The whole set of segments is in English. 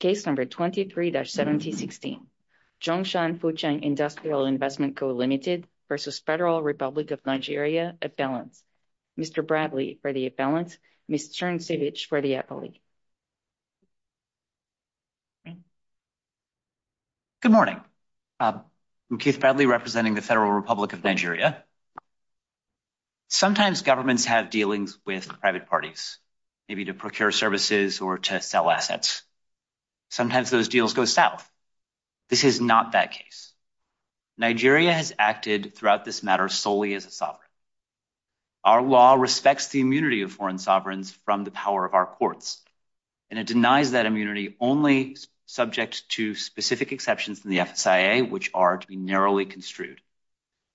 Case number 23-1716. Zhongshan Fucheng Industrial Investment Co. Ltd. v. Federal Republic of Nigeria. Mr. Bradley for the appellant. Ms. Turnsievich for the appellant. Good morning. I'm Keith Bradley representing the Federal Republic of Nigeria. Sometimes governments have dealings with private parties, maybe to procure services or to sell assets. Sometimes those deals go south. This is not that case. Nigeria has acted throughout this matter solely as a sovereign. Our law respects the immunity of foreign sovereigns from the power of our courts, and it denies that immunity only subject to specific exceptions in the FSIA, which are to be narrowly construed.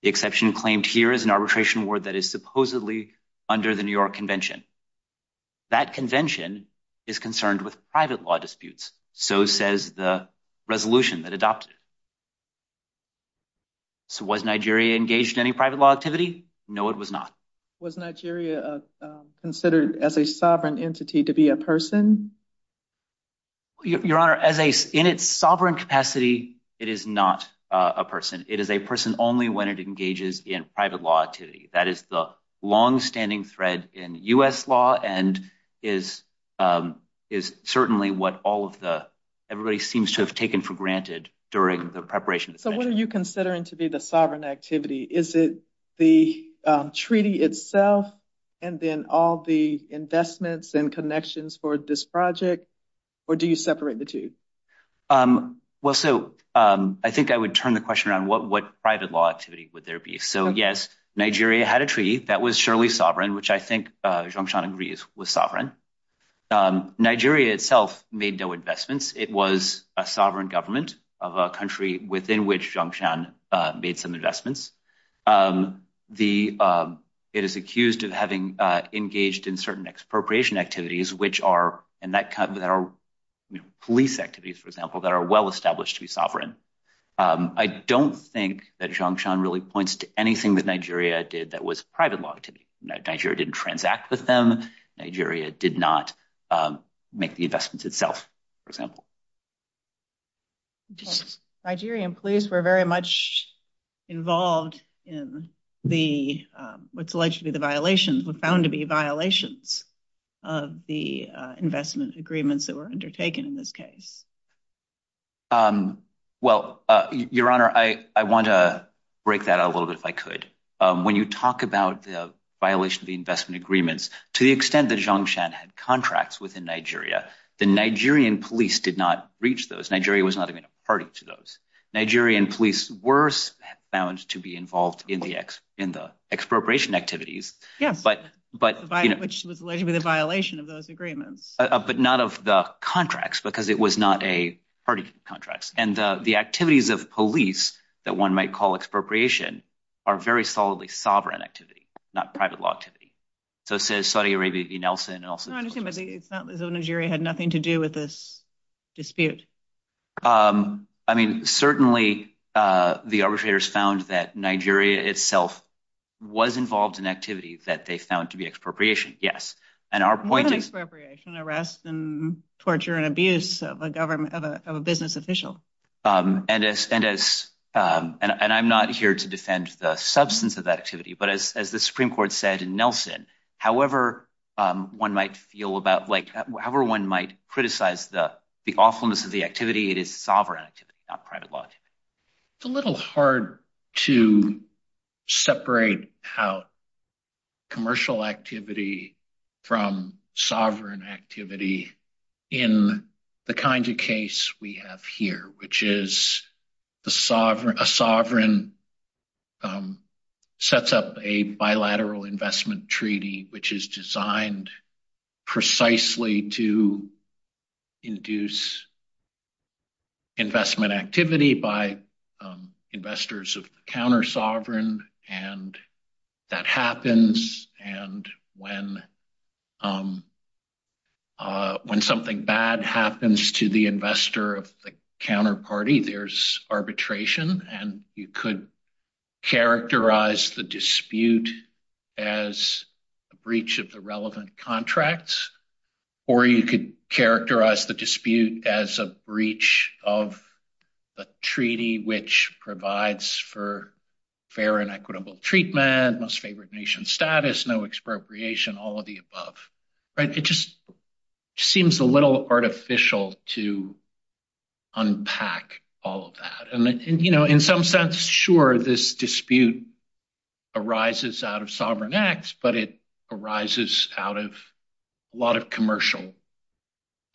The exception claimed here is an arbitration word that is supposedly under the New York Convention. That convention is concerned with private law disputes. So says the resolution that adopted. So was Nigeria engaged in any private law activity? No, it was not. Was Nigeria considered as a sovereign entity to be a person? Your Honor, in its sovereign capacity, it is not a person. It is a person only when it engages in private law activity. That is the long-standing thread in U.S. law and is certainly what everybody seems to have taken for granted during the preparation. So what are you considering to be the sovereign activity? Is it the treaty itself and then all the investments and connections for this project, or do you separate the two? Well, so I think I would turn the question on what private law activity would there be. So yes, Nigeria had a treaty that was surely sovereign, which I think Zhongshan agrees was sovereign. Nigeria itself made no investments. It was a sovereign government of a country within which Zhongshan made some investments. It is accused of having engaged in certain expropriation activities, which are police activities, for example, that are well-established to be sovereign. I don't think that Zhongshan really points to anything that Nigeria did that was private law activity. Nigeria didn't transact with them. Nigeria did not make the investments itself, for example. Nigeria and police were very much involved in what's alleged to be the violations, what's found to be violations of the investment agreements that were undertaken in this case. Well, Your Honor, I want to break that out a little bit if I could. When you talk about the violation of the investment agreements, to the extent that Zhongshan had contracts within Nigeria, the Nigerian police did not reach those. Nigeria was not even a party to those. Nigerian police were found to be involved in the expropriation activities. Yeah, which was allegedly the contracts, because it was not a party contract. The activities of police that one might call expropriation are very solidly sovereign activity, not private law activity. It says Saudi Arabia v. Nelson. No, I'm just saying that Nigeria had nothing to do with this dispute. I mean, certainly, the arbitrators found that Nigeria itself was involved in activities that they found to be expropriation, yes. What is expropriation? Arrest and torture and abuse of a business official. I'm not here to defend the substance of the activity, but as the Supreme Court said in Nelson, however one might feel about, however one might criticize the awfulness of the activity, it is sovereign activity, not private law activity. It's a little hard to separate out commercial activity from sovereign activity in the kinds of case we have here, which is a sovereign sets up a bilateral investment treaty, which is designed precisely to that happens, and when something bad happens to the investor of the counterparty, there's arbitration, and you could characterize the dispute as a breach of the relevant contracts, or you could characterize the dispute as a breach of a treaty which provides for fair and equitable treatment, most favored nation status, no expropriation, all of the above. It just seems a little artificial to unpack all of that, and in some sense, sure, this dispute arises out of sovereign acts, but it arises out of a lot of commercial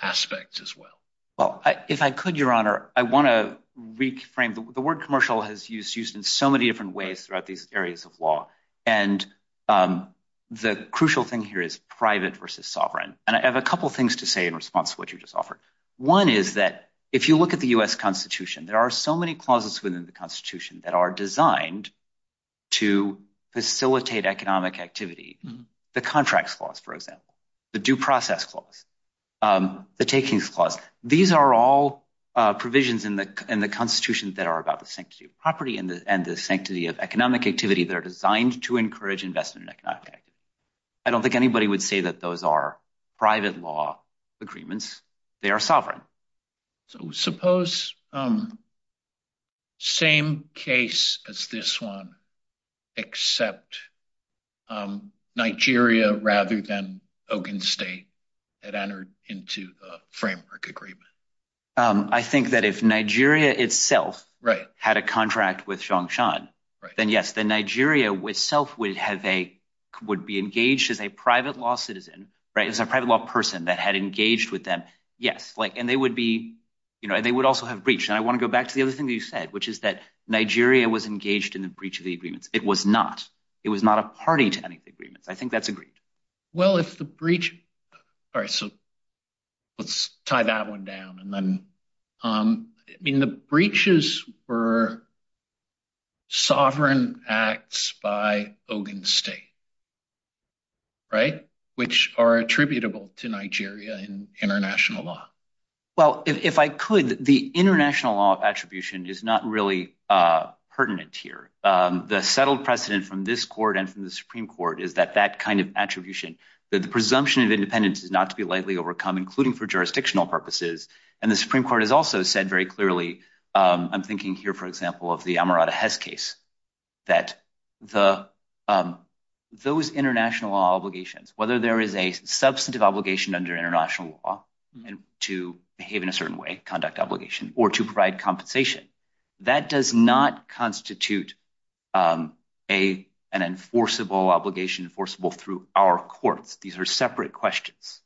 aspects as well. Well, if I could, Your Honor, I want to reframe. The word commercial has used in so many different areas of law, and the crucial thing here is private versus sovereign, and I have a couple things to say in response to what you just offered. One is that if you look at the U.S. Constitution, there are so many clauses within the Constitution that are designed to facilitate economic activity. The contracts clause, for example, the due process clause, the takings clause, these are all provisions in the Constitution that are about the sanctity of property and the sanctity of economic activity that are designed to encourage investment. I don't think anybody would say that those are private law agreements. They are sovereign. So suppose same case as this one except Nigeria rather than Ogun State had entered into a contract with Songshan, then yes, Nigeria itself would be engaged as a private law citizen, right, as a private law person that had engaged with them, yes, and they would also have breached. I want to go back to the other thing that you said, which is that Nigeria was engaged in the breach of the agreement. It was not. It was not a party to any of the agreements. I think that's true. So, what are the other sovereign acts by Ogun State, right, which are attributable to Nigeria in international law? Well, if I could, the international law of attribution is not really pertinent here. The settled precedent from this court and from the Supreme Court is that that kind of attribution, the presumption of independence is not to be lightly overcome, including for jurisdictional purposes. And the Supreme Court has also said very clearly, I'm thinking here, for example, of the Amirata Hez case, that those international law obligations, whether there is a substantive obligation under international law to behave in a certain way, conduct obligation, or to provide compensation, that does not constitute an enforceable obligation, enforceable through our court. These are separate questions.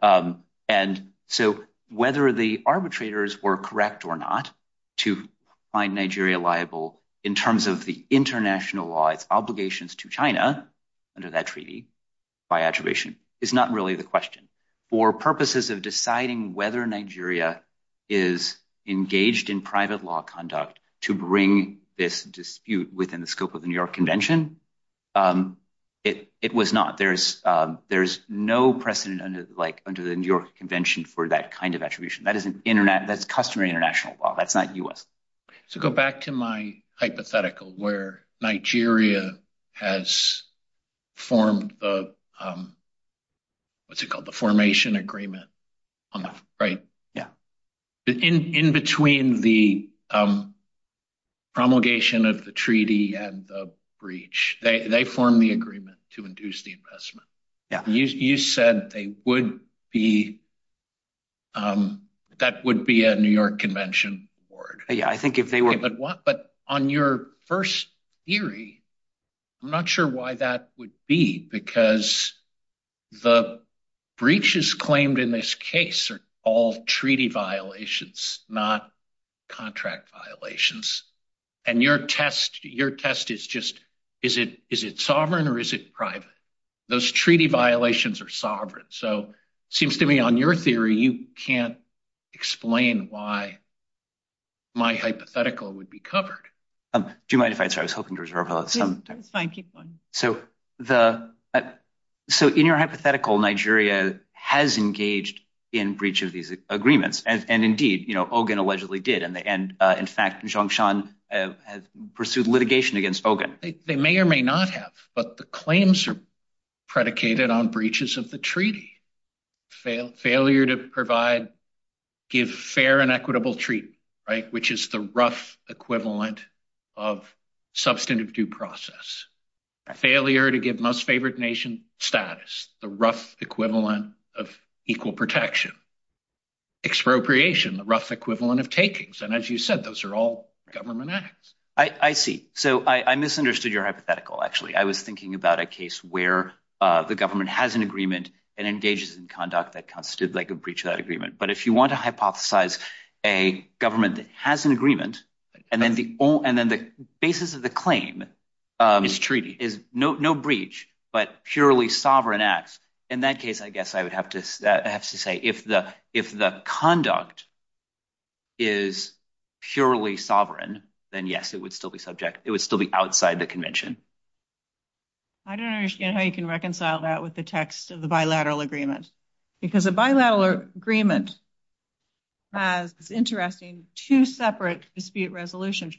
And so, whether the arbitrators were correct or not to find Nigeria liable in terms of the international law, its obligations to China under that treaty by attribution is not really the question. For purposes of deciding whether Nigeria is engaged in private law conduct to bring this under the New York Convention for that kind of attribution. That's customary international law. That's not U.S. So, go back to my hypothetical where Nigeria has formed the, what's it called, the formation agreement, right? Yeah. In between the promulgation of the treaty and the breach, they formed the agreement to induce the investment. Yeah. You said they would be, that would be a New York Convention award. Yeah, I think if they were- But on your first theory, I'm not sure why that would be, because the breaches claimed in this is it sovereign or is it private? Those treaty violations are sovereign. So, seems to me on your theory, you can't explain why my hypothetical would be covered. Do you mind if I, sorry, I was hoping to reserve that. No, it's fine, keep going. So, in your hypothetical, Nigeria has engaged in breach of these agreements, and indeed, Ogun allegedly did. And in fact, Jongshan has pursued litigation against Ogun. They may or may not have, but the claims are predicated on breaches of the treaty. Failure to provide, give fair and equitable treatment, right? Which is the rough equivalent of substantive due process. Failure to give most favored nation status, the rough equivalent of equal protection. Expropriation, the rough equivalent of takings. And as you said, those are all government acts. I see. So, I misunderstood your hypothetical, actually. I was thinking about a case where the government has an agreement and engages in conduct that constitutes like a breach of that agreement. But if you want to hypothesize a government that has an agreement, and then the basis of the claim is no breach, but purely sovereign acts, in that case, I guess I would have to say, if the conduct is purely sovereign, then yes, it would still be subject, it would still be outside the convention. I don't understand how you can reconcile that with the text of the bilateral agreement. Because a bilateral agreement has, it's interesting, two separate dispute resolutions.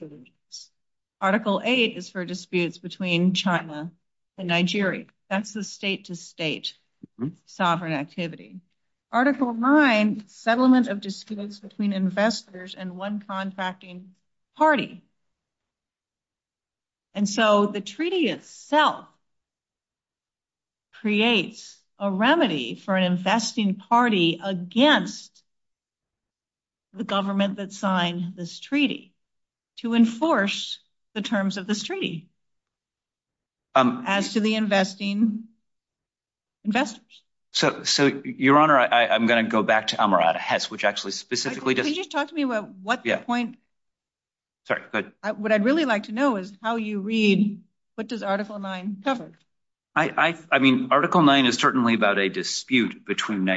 Article 8 is for disputes between China and Nigeria. That's the state to state sovereign activity. Article 9, settlement of disputes between investors and one contracting party. And so, the treaty itself creates a remedy for an investing party against the government that signed this treaty to enforce the terms of this treaty as to the investing investors. So, Your Honor, I'm going to go back to Amarata Hetz, which actually specifically does- Can you just talk to me about what the point- Yeah. Sorry, go ahead. What I'd really like to know is how you read, what does Article 9 cover? I mean, Article 9 is certainly about a dispute between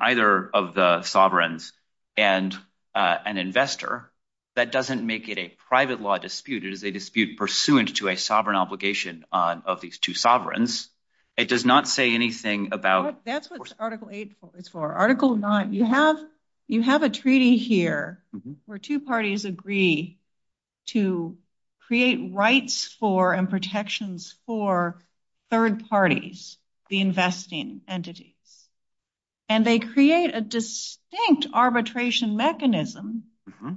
either of the sovereigns and an investor. That doesn't make it a private law dispute. It is a dispute pursuant to a sovereign obligation of these two sovereigns. It does not say anything about- That's what Article 8 is for. Article 9, you have a treaty here where two parties agree to create rights for and protections for third parties, the investing entities. And they create a distinct arbitration mechanism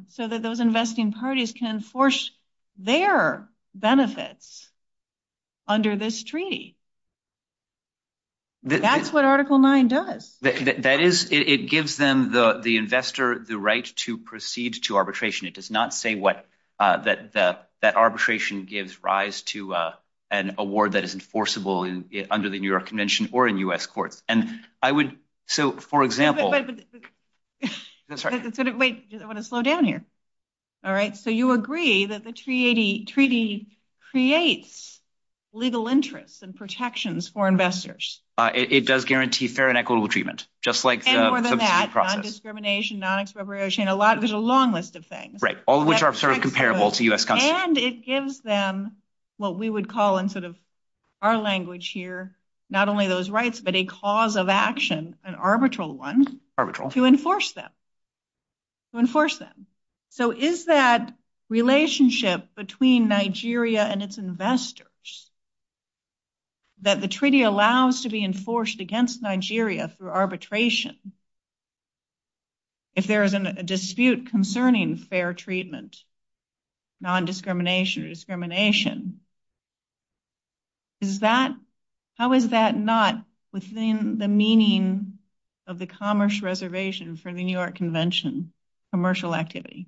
so that those investing parties can enforce their benefits under this treaty. That's what Article 9 does. It gives them, the investor, the right to proceed to arbitration. It does not say that arbitration gives rise to an award that is enforceable under the New York Convention or in U.S. court. So, for example- Wait, I want to slow down here. All right. So, you agree that the treaty creates legal interests and protections for investors? It does guarantee fair and equitable treatment, just like- And more than that, non-discrimination, non-expropriation, there's a long list of things. Right. All of which are sort of comparable to U.S. countries. And it gives them what we would call in sort of our language here, not only those rights, but a cause of action, an arbitral one- Arbitral. To enforce them. So, is that relationship between Nigeria and its investors that the treaty allows to be enforced against Nigeria through arbitration if there is a dispute concerning fair treatment, non-discrimination, or discrimination? Is that- How is that not within the meaning of the commerce reservation from the New York Convention, commercial activity?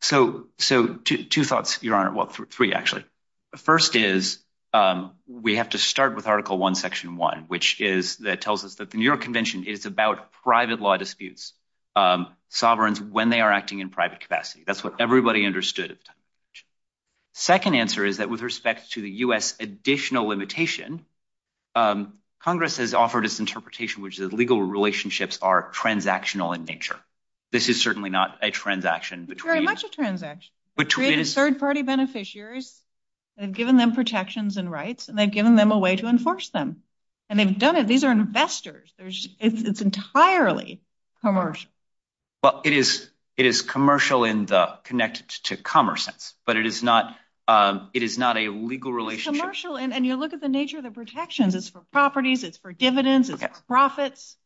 So, two thoughts, Your Honor. Well, three, actually. The first is we have to start with Article 1, Section 1, which is, that tells us that the New York Convention is about private law disputes, sovereigns when they are acting in private capacity. That's what everybody understood at the time. Second answer is that with respect to the U.S. additional limitation, Congress has offered its interpretation, which is legal relationships are transactional in nature. This is certainly not a transaction between- They've given them protections and rights, and they've given them a way to enforce them, and they've done it. These are investors. It's entirely commercial. Well, it is commercial and connected to commerce, but it is not a legal relationship. It's commercial, and you look at the nature of the protections. It's for properties. It's for dividends. It's for profits.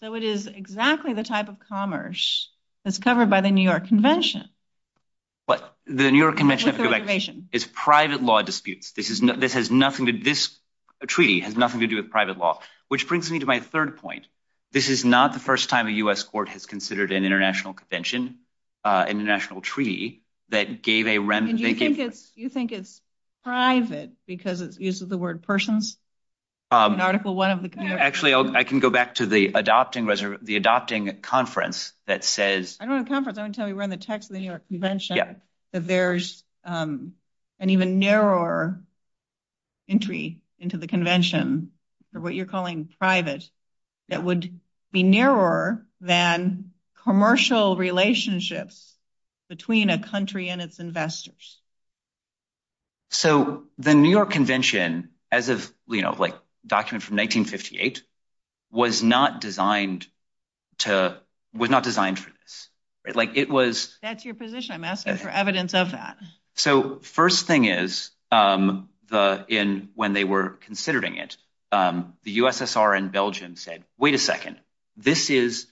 So, it is exactly the type of commerce that's covered by the New York Convention. It's private law disputes. This treaty has nothing to do with private law, which brings me to my third point. This is not the first time a U.S. court has considered an international convention, an international treaty, that gave a- And you think it's private because it uses the word persons in Article 1 of the- Actually, I can go back to the adopting conference that says- I don't know the conference. I want to tell you in the text of the New York Convention that there's an even narrower entry into the convention, or what you're calling private, that would be narrower than commercial relationships between a country and its investors. So, the New York Convention, as a document from 1958, was not designed for this. It was- That's your position. I'm asking for evidence of that. So, first thing is, when they were considering it, the USSR and Belgium said, wait a second. This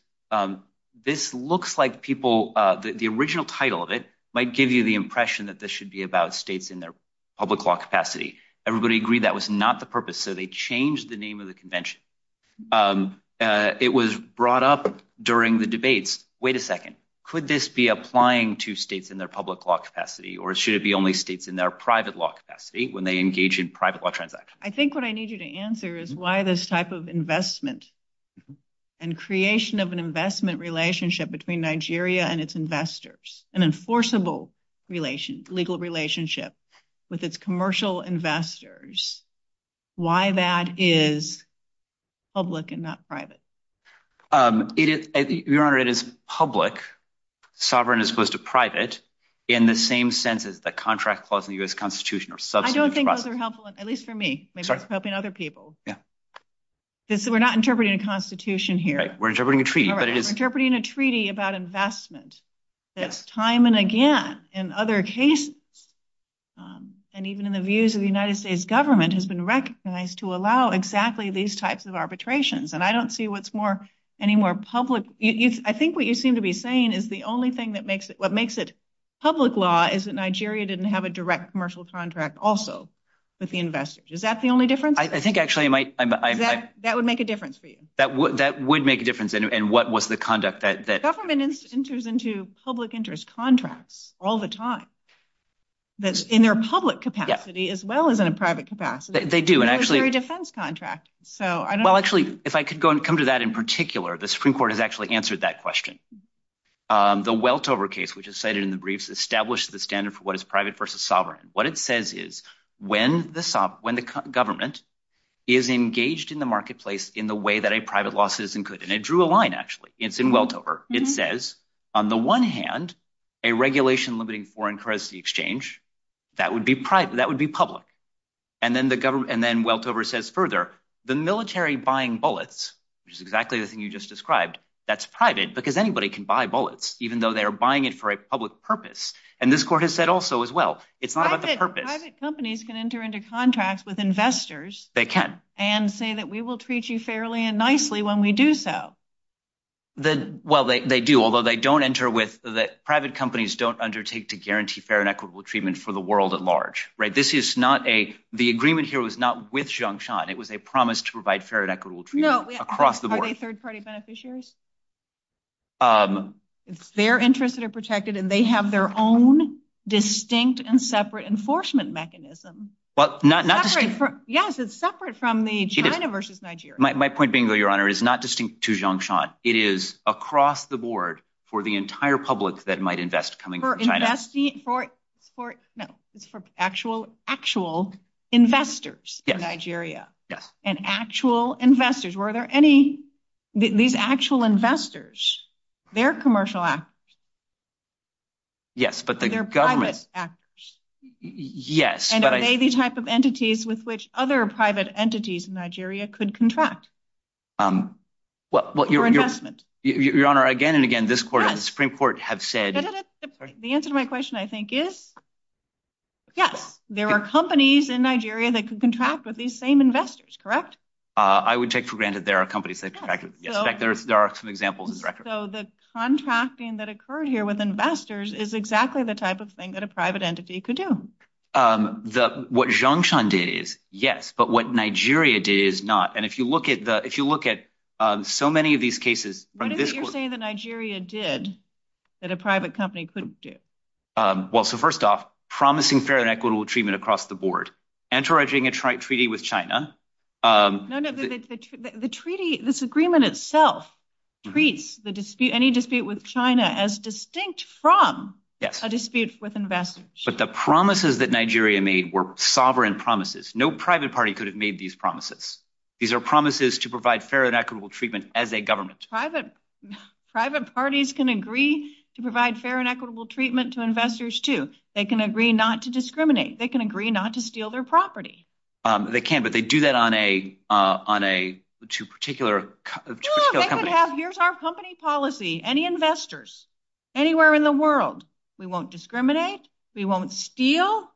looks like people- The original title of it might give you the impression that this should be about states in their public law capacity. Everybody agreed that was not the purpose, so they changed the name of the convention. It was brought up during the debates. Wait a second. Could this be applying to states in their public law capacity, or should it be only states in their private law capacity when they engage in private law transactions? I think what I need you to answer is why this type of investment and creation of an investment relationship between Nigeria and its investors, an enforceable legal relationship with its commercial investors, why that is public and not private? Your Honor, it is public, sovereign as opposed to private, in the same sense as the contract clause in the U.S. Constitution. I don't think those are helpful, at least for me, maybe it's helping other people. We're not interpreting a constitution here. We're interpreting a treaty, but it is- We're interpreting a treaty about investment that's time and again in other cases, and even in the views of the United States government, has been recognized to allow exactly these types of arbitrations, and I don't see what's more, any more public. I think what you seem to be saying is the only thing that makes it public law is that Nigeria didn't have a direct commercial contract also with the investors. Is that the only difference? I think actually it might- That would make a difference for you. That would make a difference, and what was the conduct that- The government enters into public interest contracts all the time, that's in their public capacity as well as in a private capacity. They do, and actually- It's a defense contract, so I don't- Well, actually, if I could go and come to that in particular, the Supreme Court has actually answered that question. The Weltover case, which is cited in the briefs, established the standard for what is private versus sovereign. What it says is when the government is engaged in the marketplace in the way that a private law citizen could, and it drew a line, actually. It's in there. It says, on the one hand, a regulation limiting foreign currency exchange, that would be private, that would be public. Then Weltover says further, the military buying bullets, which is exactly the thing you just described, that's private because anybody can buy bullets, even though they're buying it for a public purpose. This court has said also as well, it's not about the purpose. I think private companies can enter into contracts with investors- They can.... and say that we will treat you fairly and nicely when we do so. Well, they do, although they don't enter with... Private companies don't undertake to guarantee fair and equitable treatment for the world at large. This is not a... The agreement here was not with Jiangshan. It was a promise to provide fair and equitable treatment across the board. Are they third-party beneficiaries? It's their interests that are protected, and they have their own distinct and separate enforcement mechanism. Yes, it's separate from the China versus Nigeria. My point being, though, Your Honor, is not distinct to Jiangshan. It is across the board for the entire public that might invest coming from China. For actual investors in Nigeria, and actual investors. Were there any... These actual investors, they're commercial actors. Yes, but the government- Yes, but I- Any type of entities with which other private entities in Nigeria could contract for investment? Your Honor, again and again, this court and the Supreme Court have said- The answer to my question, I think, is yes. There were companies in Nigeria that could contract with these same investors, correct? I would take for granted there are companies that contracted. In fact, there are some examples in record. So the contracting that occurred here with investors is exactly the type of thing that private entity could do. What Jiangshan did is yes, but what Nigeria did is not. If you look at so many of these cases- What is it you're saying that Nigeria did that a private company couldn't do? Well, so first off, promising fair and equitable treatment across the board. Entering a treaty with China- No, no. The treaty, this agreement itself treats any dispute with China as distinct from a dispute with investors. But the promises that Nigeria made were sovereign promises. No private party could have made these promises. These are promises to provide fair and equitable treatment as a government. Private parties can agree to provide fair and equitable treatment to investors, too. They can agree not to discriminate. They can agree not to steal their property. They can, but they do that on a to particular- Here's our company policy. Any investors anywhere in the world, we won't discriminate. We won't steal.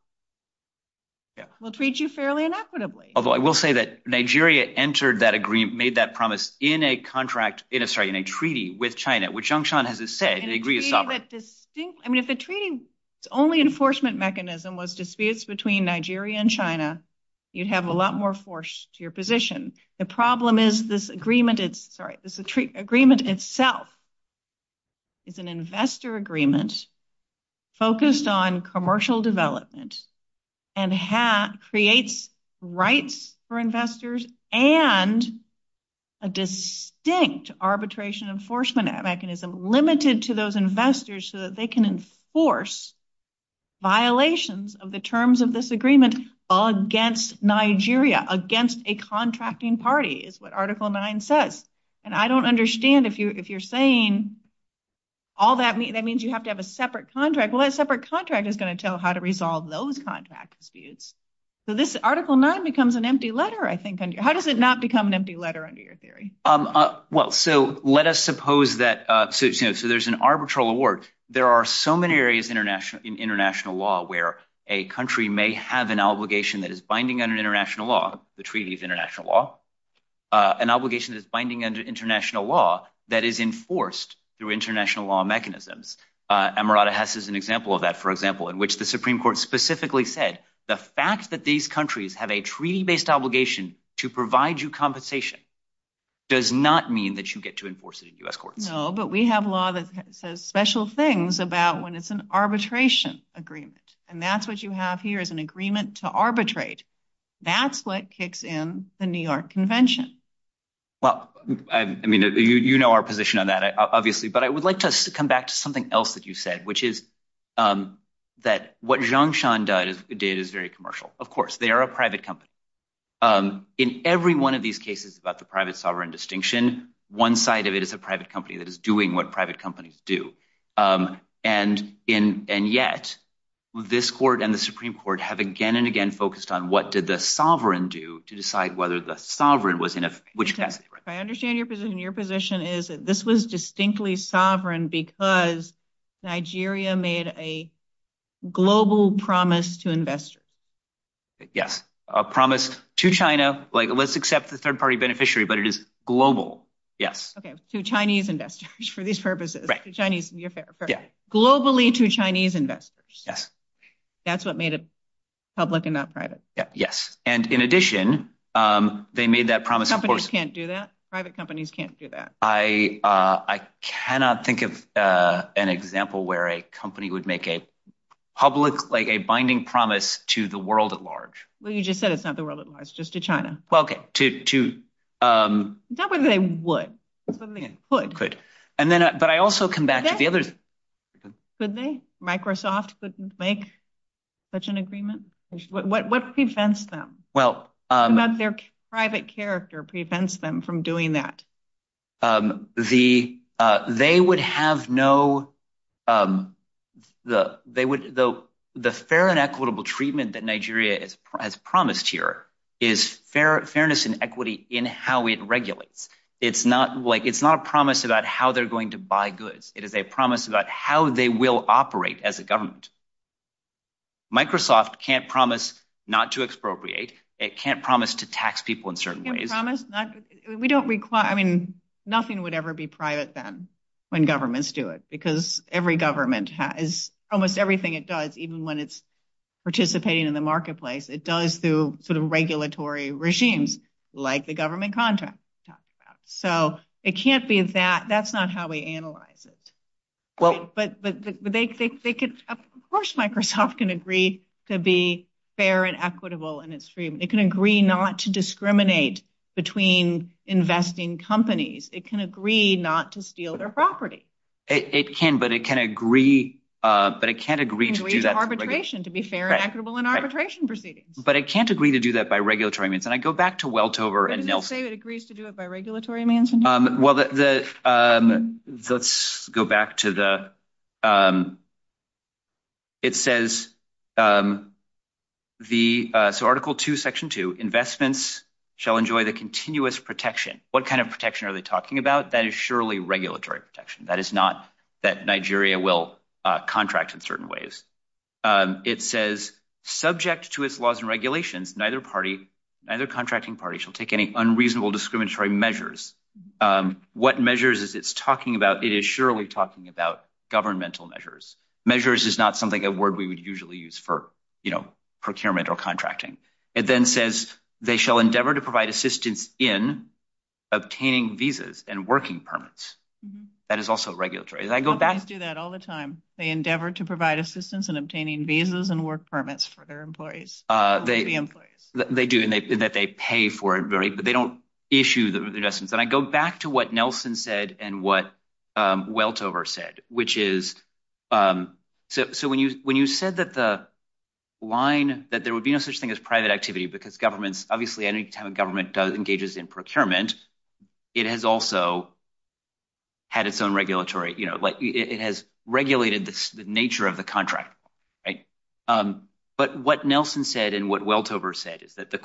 We'll treat you fairly and equitably. Although I will say that Nigeria entered that agreement, made that promise in a contract, in a treaty with China, which Jiangshan has said, they agree it's sovereign. I mean, if the treaty's only enforcement mechanism was disputes between Nigeria and China, you'd have a lot more force to your problem is this agreement itself. It's an investor agreement focused on commercial development and creates rights for investors and a distinct arbitration enforcement mechanism limited to those investors so that they can enforce violations of the terms of this agreement against Nigeria, against a contracting party is what Article IX says. And I don't understand if you're saying that means you have to have a separate contract. Well, a separate contract is going to tell how to resolve those contract disputes. So this Article IX becomes an empty letter, I think. How does it not become an empty letter under your theory? Well, so let us suppose that, so there's an arbitral award. There are so many areas in international law where a country may have an obligation that is binding on an international law, the treaty's international law, an obligation that's binding on international law that is enforced through international law mechanisms. Amarada Hess is an example of that, for example, in which the Supreme Court specifically said, the fact that these countries have a treaty-based obligation to provide you compensation does not mean that you get to enforce it in US courts. No, but we have law that says special things about when it's an arbitration agreement, and that's what you have here is an agreement to arbitrate. That's what kicks in the New York Convention. Well, I mean, you know our position on that, obviously, but I would like to come back to something else that you said, which is that what Jiangshan did is very commercial. Of course, they are a private company. In every one of these cases about the private sovereign distinction, one side of it is a private company that is doing what private companies do, and yet, this court and the Supreme Court have again and again focused on what did the sovereign do to decide whether the sovereign was in a... I understand your position. Your position is that this was distinctly sovereign because Nigeria made a global promise to investors. Yes, a promise to China, like let's accept the third-party beneficiary, but it is global. Yes. Okay, to Chinese investors for these purposes, to Chinese. You're fair. Perfect. Globally to Chinese investors. Yes. That's what made it public and not private. Yes, and in addition, they made that promise... Companies can't do that. Private companies can't do that. I cannot think of an example where a company would make a public, like a binding promise to the world at large. Well, you just said it's not the world at large, just to China. Well, okay, to... It's not whether they would. It's whether they could. Could. But I also come back to the other... Could they? Microsoft couldn't make such an agreement? What prevents them? What about their private character prevents them from doing that? They would have no... The fair and equitable treatment that Nigeria has promised here is fairness and equity in how it regulates. It's not like... It's not a promise about how they're going to buy goods. It is a promise about how they will operate as a government. Microsoft can't promise not to expropriate. It can't promise to tax people in certain ways. We don't require... I mean, nothing would ever be private then when governments do it, because every government has... Almost everything it does, even when it's participating in the marketplace, it does through sort of regulatory regimes, like the government contract. So it can't be that... That's not how we analyze it. Of course, Microsoft can agree to be fair and equitable in its treatment. It can agree not to discriminate between investing companies. It can agree not to steal their property. It can, but it can agree... But it can't agree to do that... Arbitration, to be fair and equitable in arbitration proceedings. But it can't agree to do that by regulatory means. And I go back to Weltover and Nelson. It agrees to do it by regulatory means? Well, let's go back to the... It says the... So Article 2, Section 2, investments shall enjoy the continuous protection. What kind of protection are they talking about? That is surely regulatory protection. That is not that Nigeria will contract in certain ways. It says, subject to its laws and regulations, neither party, neither contracting party, shall take any unreasonable discriminatory measures. What measures is it talking about? It is surely talking about governmental measures. Measures is not something, a word we would usually use for procurement or contracting. It then says, they shall endeavor to provide assistance in obtaining visas and working permits. That is also regulatory. And I go back... They do that all the time. They endeavor to provide assistance in obtaining visas and work permits for their employees. They do, and that they pay for it, but they don't issue the investments. And I go back to what Nelson said and what Weltover said, which is... So when you said that the line, that there would be no such thing as private activity because governments... Obviously, anytime a government engages in procurement, it has also had its own regulatory... It has regulated the nature of the contract. But what Nelson said and what Weltover said is that the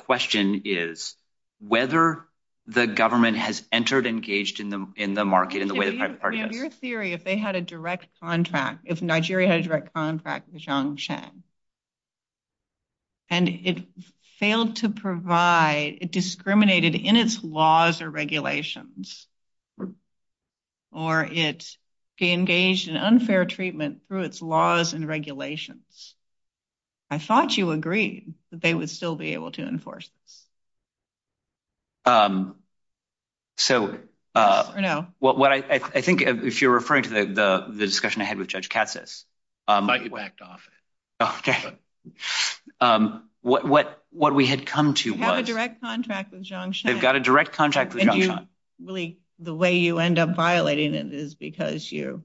in the market and the way the private party has... Your theory, if they had a direct contract, if Nigeria had a direct contract with Jiangshan and it failed to provide, it discriminated in its laws or regulations, or it engaged in unfair treatment through its laws and regulations, I thought you agreed that they would still be able to enforce this. I think if you're referring to the discussion I had with Judge Katsas... I whacked off it. Okay. What we had come to was... They have a direct contract with Jiangshan. They've got a direct contract with Jiangshan. And really, the way you end up violating it is because you,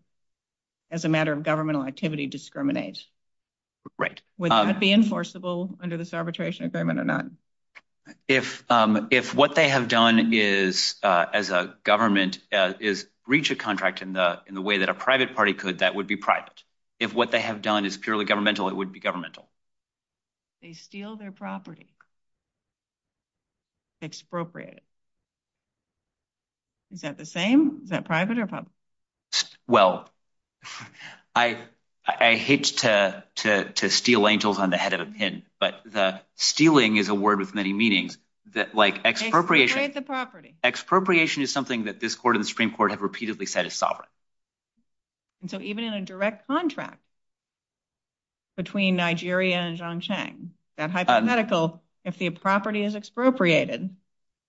as a matter of governmental activity, discriminate. Would that be enforceable under this arbitration agreement or not? If what they have done is, as a government, is reach a contract in the way that a private party could, that would be private. If what they have done is purely governmental, it would be governmental. They steal their property. It's appropriate. Is that the same? Is that private or public? Well, I hate to steal angels on the head of a pin, but the stealing is a word with many meanings. Like expropriation... Expropriate the property. Expropriation is something that this court and the Supreme Court have repeatedly said is sovereign. And so even in a direct contract between Nigeria and Jiangshan, that hypothetical, if the property is expropriated,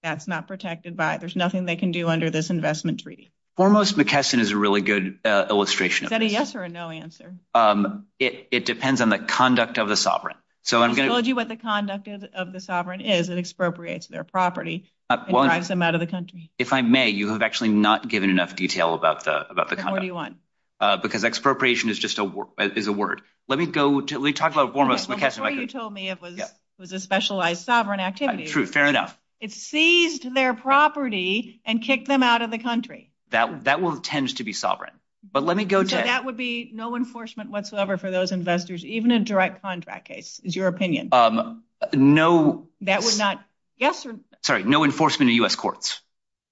that's not protected by... There's nothing they can do under this investment treaty. Foremost McKesson is a really good illustration. Is that a yes or a no answer? It depends on the conduct of the sovereign. So I'm going to... I told you what the conduct of the sovereign is. It expropriates their property and drives them out of the country. If I may, you have actually not given enough detail about the conduct. Then what do you want? Because expropriation is just a word. Let me go to... Let me talk about foremost McKesson. Before you told me it was a specialized sovereign activity... True. Fair enough. It seized their property and kicked them out of the country. That will tend to be sovereign. But let me go to... So that would be no enforcement whatsoever for those investors, even in direct contract case, is your opinion? No... That would not... Yes or... Sorry. No enforcement in US courts.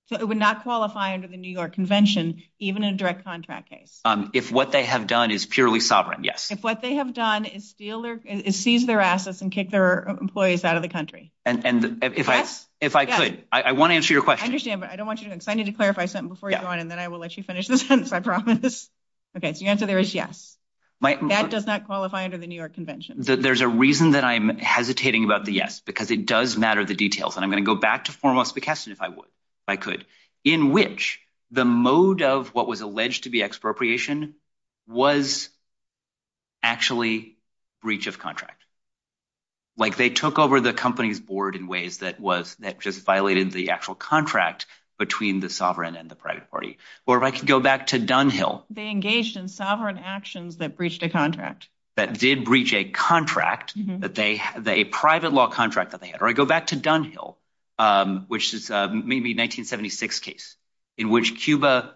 So it would not qualify under the New York Convention, even in a direct contract case? If what they have done is purely sovereign, yes. If what they have done is steal their... Is seize their assets and kick their employees out of the country. And if I could, I want to answer your question. I understand, but I don't want you to... I need to clarify something before you go on, and then I will let you finish this sentence, I promise. Okay. So the answer there is yes. That does not qualify under the New York Convention. There's a reason that I'm hesitating about the yes, because it does matter the details. And I'm going to go back to foremost McKesson if I could. In which the mode of what was alleged to be expropriation was actually breach of contract. Like they took over the company's board in ways that was... That just violated the actual contract between the sovereign and the private party. Or if I could go back to Dunhill... They engaged in sovereign actions that breached a contract. That did breach a contract that they... A private law contract that they had. Or I go back to Dunhill, which is maybe 1976 case. In which Cuba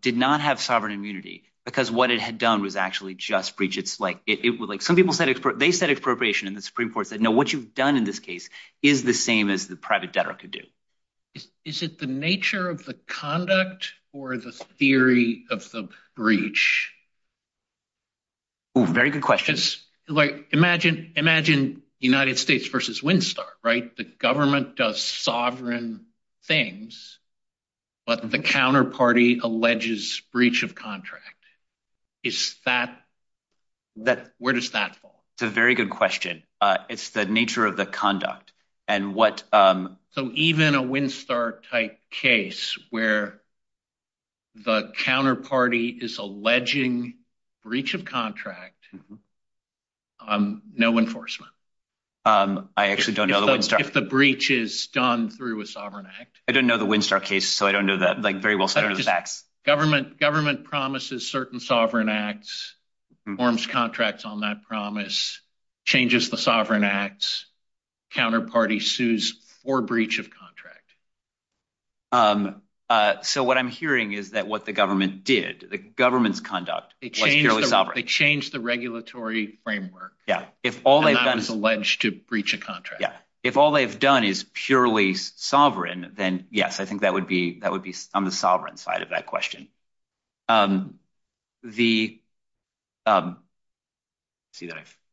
did not have sovereign immunity, because what it had done was actually just breach it's like... They said expropriation in the Supreme Court. They know what you've done in this case is the same as the private debtor could do. Is it the nature of the conduct or the theory of the breach? Very good questions. Imagine United States versus Windstar, right? The government does sovereign things, but the counterparty alleges breach of contract. Is that... Where does that fall? It's a very good question. It's the nature of the conduct. And what... So even a Windstar type case where the counterparty is alleging breach of contract, no enforcement. I actually don't know the Windstar. If the breach is done through a sovereign act. I didn't know the Windstar case. So I don't know that very well. Government promises certain sovereign acts, forms contracts on that promise, changes the sovereign acts, counterparty sues for breach of contract. So what I'm hearing is that what the government did, the government's conduct... They changed the regulatory framework. Yeah. If all they've done... And I was alleged to breach a contract. Yeah. If all they've done is purely sovereign, then yes, that would be on the sovereign side of that question. Let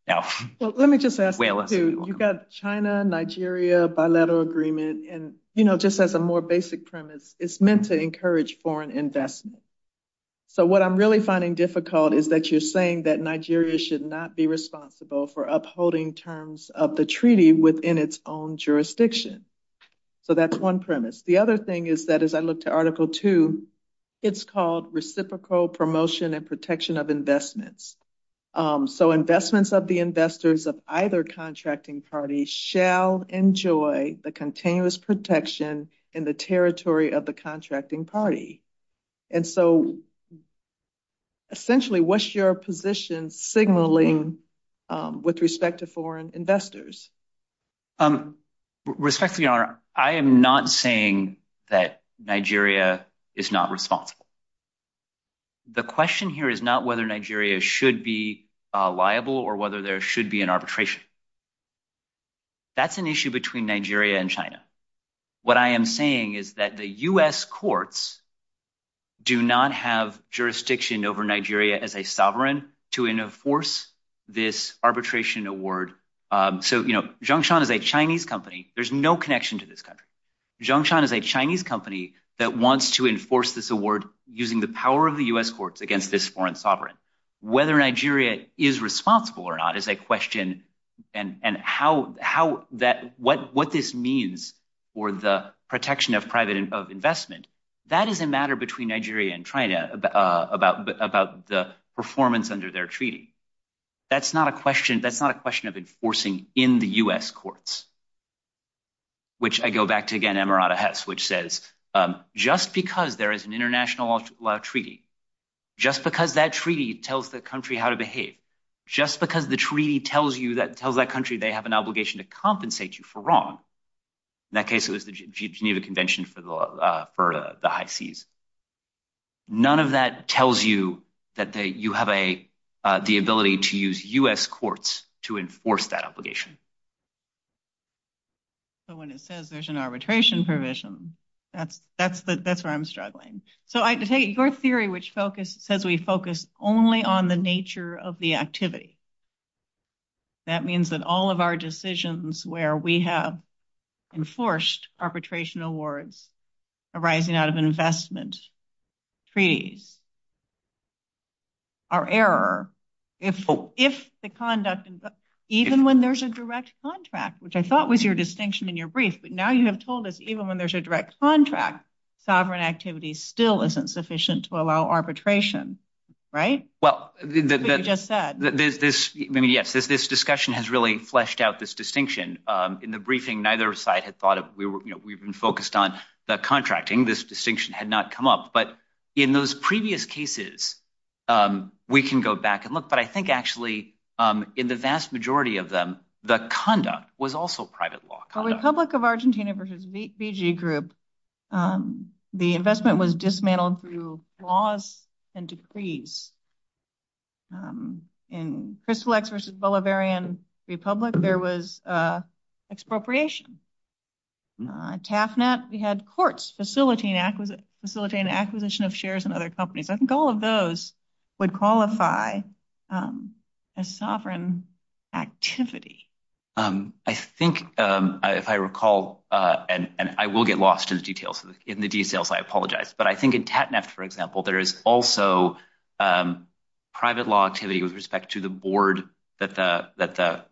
me just ask you too. You've got China, Nigeria, bilateral agreement. And just as a more basic premise, it's meant to encourage foreign investment. So what I'm really finding difficult is that you're saying that Nigeria should not be responsible for upholding terms of the treaty within its own jurisdiction. So that's one premise. The other thing is that as I looked at article two, it's called reciprocal promotion and protection of investments. So investments of the investors of either contracting party shall enjoy the continuous protection in the territory of the contracting party. And so essentially, what's your position signaling with respect to foreign investors? With respect to the honor, I am not saying that Nigeria is not responsible. The question here is not whether Nigeria should be liable or whether there should be an arbitration. That's an issue between Nigeria and China. What I am saying is that the US courts do not have jurisdiction over Nigeria as a sovereign to enforce this arbitration award. So Jiangshan is a Chinese company. There's no connection to this country. Jiangshan is a Chinese company that wants to enforce this award using the power of the US courts against this foreign sovereign. Whether Nigeria is responsible or not is a question. And what this means for the protection of private investment, that is a matter between Nigeria and China about the performance under their treaty. That's not a question. That's not a question of enforcing in the US courts, which I go back to again, Emirata Hess, which says just because there is an international treaty, just because that treaty tells the country how to behave, just because the treaty tells you that tells that country they have an obligation to compensate you for wrong. In that case, it was the Geneva Convention for the High Seas. None of that tells you that you have the ability to use US courts to enforce that obligation. So when it says there's an arbitration provision, that's where I'm struggling. So I take your theory, which says we focus only on the nature of the activity. That means that all of our decisions where we have enforced arbitration awards arising out of investment treaties are error. If the conduct, even when there's a direct contract, which I thought was your distinction in your brief, but now you have told us even when there's a direct contract, sovereign activity still isn't sufficient to allow arbitration, right? Well, yes, this discussion has really fleshed out this distinction. In the briefing, neither side had thought we were, you know, we've been focused on contracting. This distinction had not come up. But in those previous cases, we can go back and look. But I think actually in the vast majority of them, the conduct was also private law. The Republic of Argentina versus VG Group, the investment was dismantled through laws and decrees. In Crystal X versus Bolivarian Republic, there was expropriation. In TAFNAP, we had courts facilitating acquisition of shares in other companies. I think all of those would qualify as sovereign activity. I think if I recall, and I will get lost in the details, I apologize. But I think in TAFNAP, for example, there is also private law activity with respect to the board that the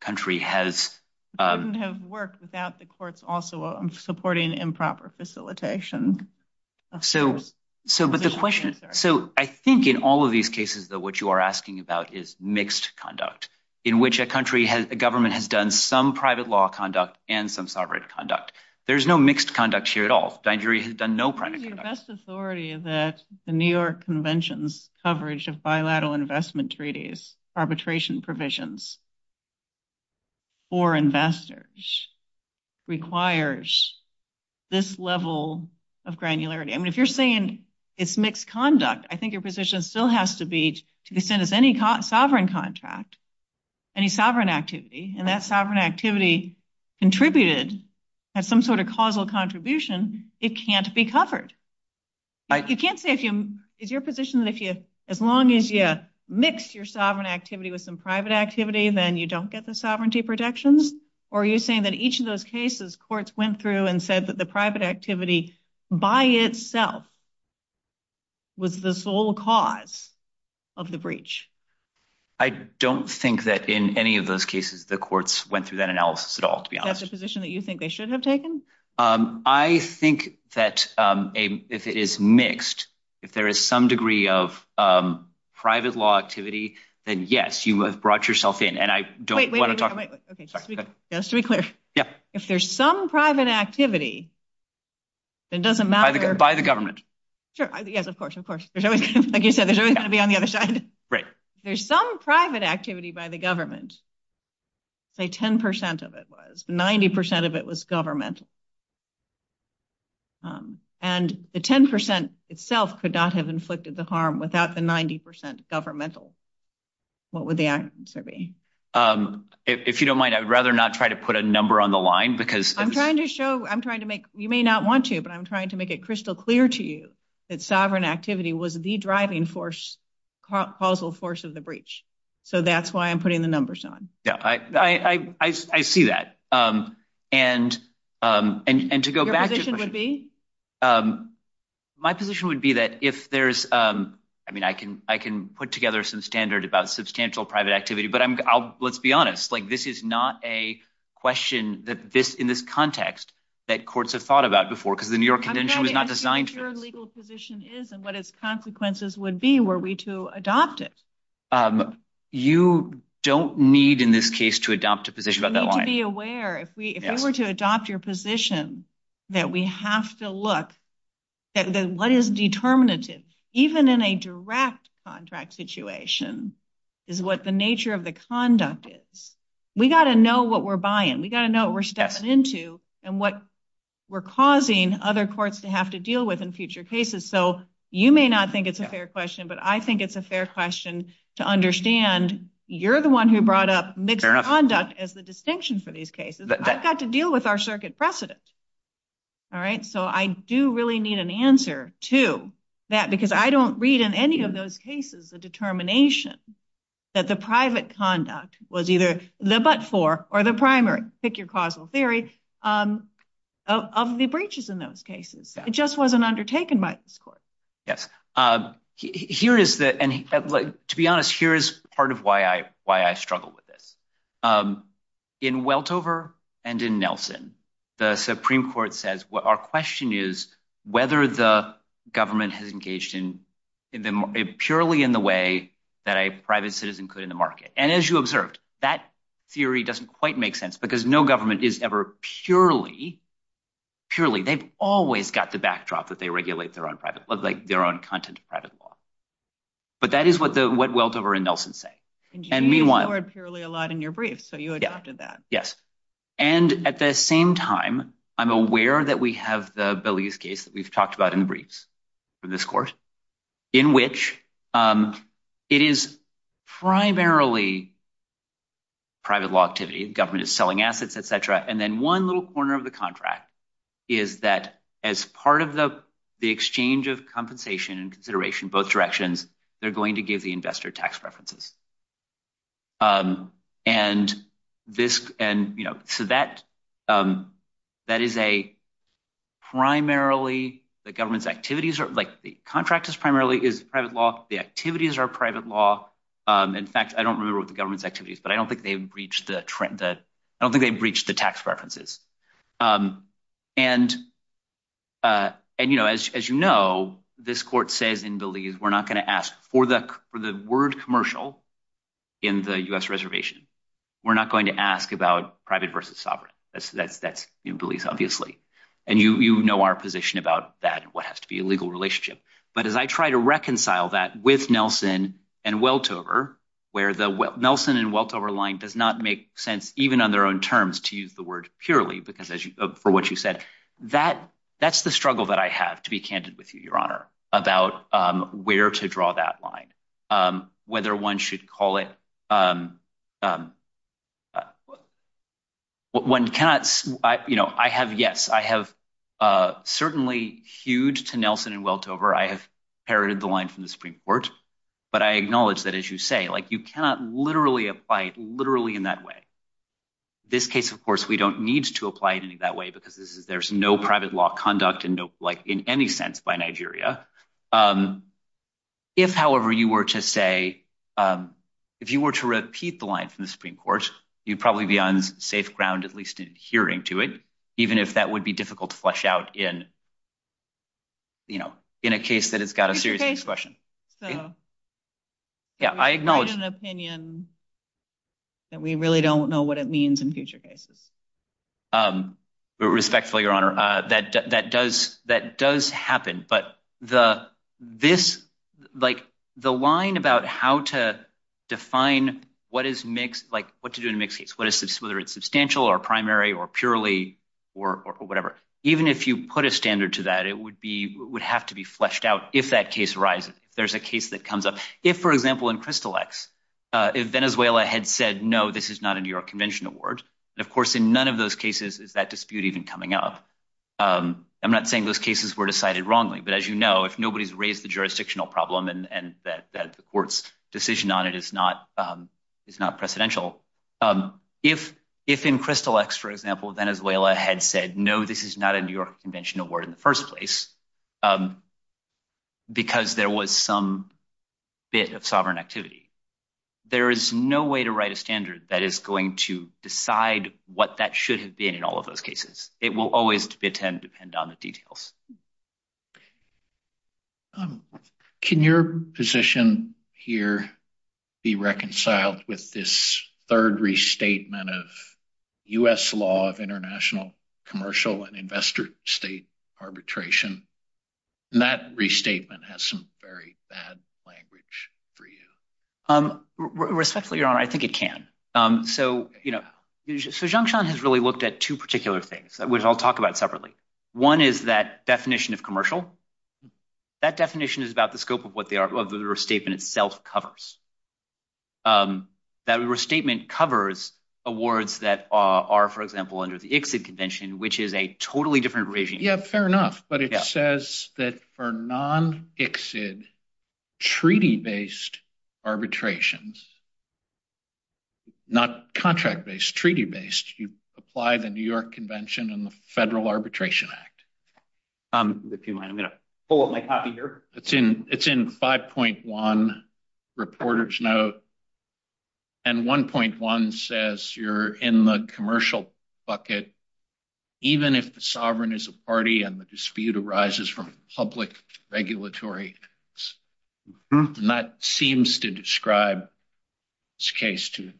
country has. It wouldn't have worked without the courts also supporting improper facilitation. So, but the question, so I think in all of these cases, though, what you are asking about is mixed conduct in which a country, a government has done some private law conduct and some sovereign conduct. There's no mixed conduct here at all. Nigeria has done no private conduct. The best authority that the New York Convention's coverage of bilateral investment treaties, arbitration provisions for investors requires this level of granularity. And if you're saying it's mixed conduct, I think your position still has to be to be sent as any sovereign contract, any sovereign activity, and that sovereign activity contributed at some sort of causal contribution, it can't be covered. You can't say, is your position that as long as you mix your sovereign activity with some private activity, then you don't get the sovereignty protections? Or are you saying that each of those cases, courts went through and said that the private activity by itself was the sole cause of the breach? I don't think that in any of those cases, the courts went through that analysis at all, to be honest. That's a position that you think they should have taken? I think that if it is mixed, if there is some degree of private law activity, then yes, you have brought yourself in. And I don't want to talk about it. Just to be clear, if there's some private activity, it doesn't matter. By the government. Sure, yes, of course, of course. Like you said, there's always going to be on the other side. Right. There's some private activity by the government. Say 10% of it was, 90% of it was government. And the 10% itself could not have inflicted the harm without the 90% governmental. What would the answer be? If you don't mind, I'd rather not try to put a number on the line because- I'm trying to show, I'm trying to make, you may not want to, but I'm trying to make it crystal clear to you that sovereign activity was the driving force, causal force of the breach. So that's why I'm putting the numbers on. Yeah, I see that. And to go back- Your position would be? My position would be that if there's, I mean, I can put together some standard about substantial private activity, but I'm, I'll, let's be honest. Like, this is not a question that this, in this context that courts have thought about before, because the New York convention was not designed to- I'm trying to ask you what your legal position is and what its consequences would be were we to adopt it. Um, you don't need in this case to adopt a position about that line. Be aware, if we were to adopt your position, that we have to look at what is determinative, even in a direct contract situation, is what the nature of the conduct is. We got to know what we're buying. We got to know what we're stepping into and what we're causing other courts to have to deal with in future cases. So, you may not think it's a fair question, but I think it's a fair question to understand you're the one who brought up mixed conduct as the distinction for these cases. I've got to deal with our circuit precedents. All right? So, I do really need an answer to that, because I don't read in any of those cases, the determination that the private conduct was either the but for, or the primary, pick your causal theory, um, of the breaches in those cases. It just wasn't undertaken by this court. Yes. Um, here is the, and to be honest, here's part of why I, why I struggle with this. Um, in Weltover and in Nelson, the Supreme Court says what our question is, whether the government has engaged in, in purely in the way that a private citizen could in the market. And as you observed, that theory doesn't quite make sense because no government is ever purely, purely. They've always got the backdrop that they regulate their own private, like their own content of private law. But that is what the, what Weltover and Nelson say. And meanwhile, purely a lot in your brief. So you adopted that. Yes. And at the same time, I'm aware that we have the Belize case that we've talked about in briefs for this course in which, um, it is primarily private law activity. The government is selling assets, et cetera. And then one little corner of the contract is that as part of the, the exchange of compensation and consideration, both directions, they're going to give the investor tax preferences. Um, and this, and you know, so that, um, that is a primarily the government's activities are like the contract is primarily is private law. The activities are private law. Um, in fact, I don't remember what the government's activities, but I don't think they've reached the trend that I don't think they've reached the tax preferences. Um, and, uh, and, you know, as, as you know, this court says in Belize, we're not going to ask for the, for the word commercial in the U S reservation, we're not going to ask about private versus sovereign. That's, that's, that's in Belize, obviously. And you, you know, our position about that and what has to be a legal relationship. But as I try to reconcile that with Nelson and Weltover, where the Nelson and Weltover line does not make sense, even on their own terms to use the word purely, because as you, for what you said, that that's the struggle that I have to be candid with you, your honor about, um, where to draw that line. Um, whether one should call it, um, um, when cats, I, you know, I have, yes, I have, uh, certainly huge to Nelson and Weltover. I have inherited the line from the Supreme court, but I acknowledge that as you say, like you cannot literally apply it literally in that way. This case, of course, we don't need to apply it any that way, because this is, there's no private law conduct and no like in any sense by Nigeria. Um, if however you were to say, um, if you were to repeat the lines in the Supreme court, you'd probably be on safe ground, at least in hearing to it, even if that would be difficult to flesh out in, you know, in a case that it's got a serious question. So yeah, I acknowledge an opinion that we really don't know what it means in future cases. Um, respectfully, your honor, uh, that, that does, that does happen, but the, this, like the line about how to define what is mixed, like what to do in a mixed case, whether it's substantial or primary or purely, or whatever, even if you put a standard to that, it would would have to be fleshed out. If that case arises, there's a case that comes up. If for example, in Crystal X, uh, if Venezuela had said, no, this is not a New York convention award. And of course, in none of those cases is that dispute even coming up. Um, I'm not saying those cases were decided wrongly, but as you know, if nobody's raised the jurisdictional problem and that, that the court's decision on it, it's not, um, it's not precedential. Um, if, if in Crystal X, for example, Venezuela had said, no, this is not a New York convention award in the first place, um, because there was some bit of sovereign activity, there is no way to write a standard that is going to decide what that should have been in all of those cases. It will always be a 10 depend on the details. Um, can your position here be reconciled with this third restatement of U S law of investor state arbitration? And that restatement has some very bad language for you. Um, respectfully, your honor, I think it can. Um, so, you know, so Junction has really looked at two particular things, which I'll talk about separately. One is that definition of commercial, that definition is about the scope of what they are, of the restatement itself covers. Um, that restatement covers awards that are, for example, under the exit convention, which is a totally different regime. Yeah, fair enough. But it says that for non exit treaty-based arbitrations, not contract-based treaty-based you apply the New York convention and the federal arbitration act. Um, if you mind, I'm going to pull up my copy here. It's in, it's in 5.1 reporters note. And 1.1 says you're in the commercial bucket, even if the sovereign is a party and the dispute arises from public regulatory, and that seems to describe this case too.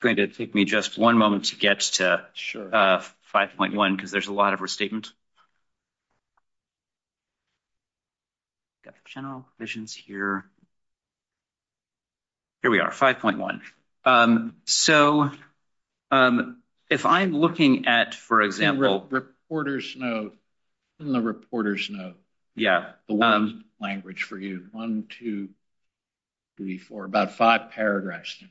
Great. It'd take me just one moment to get to 5.1 because there's a lot of restatement. Got the general visions here. Here we are 5.1. Um, so, um, if I'm looking at, for example, reporters note in the reporters note. Yeah. The one language for you. One, two, three, four, about five paragraphs.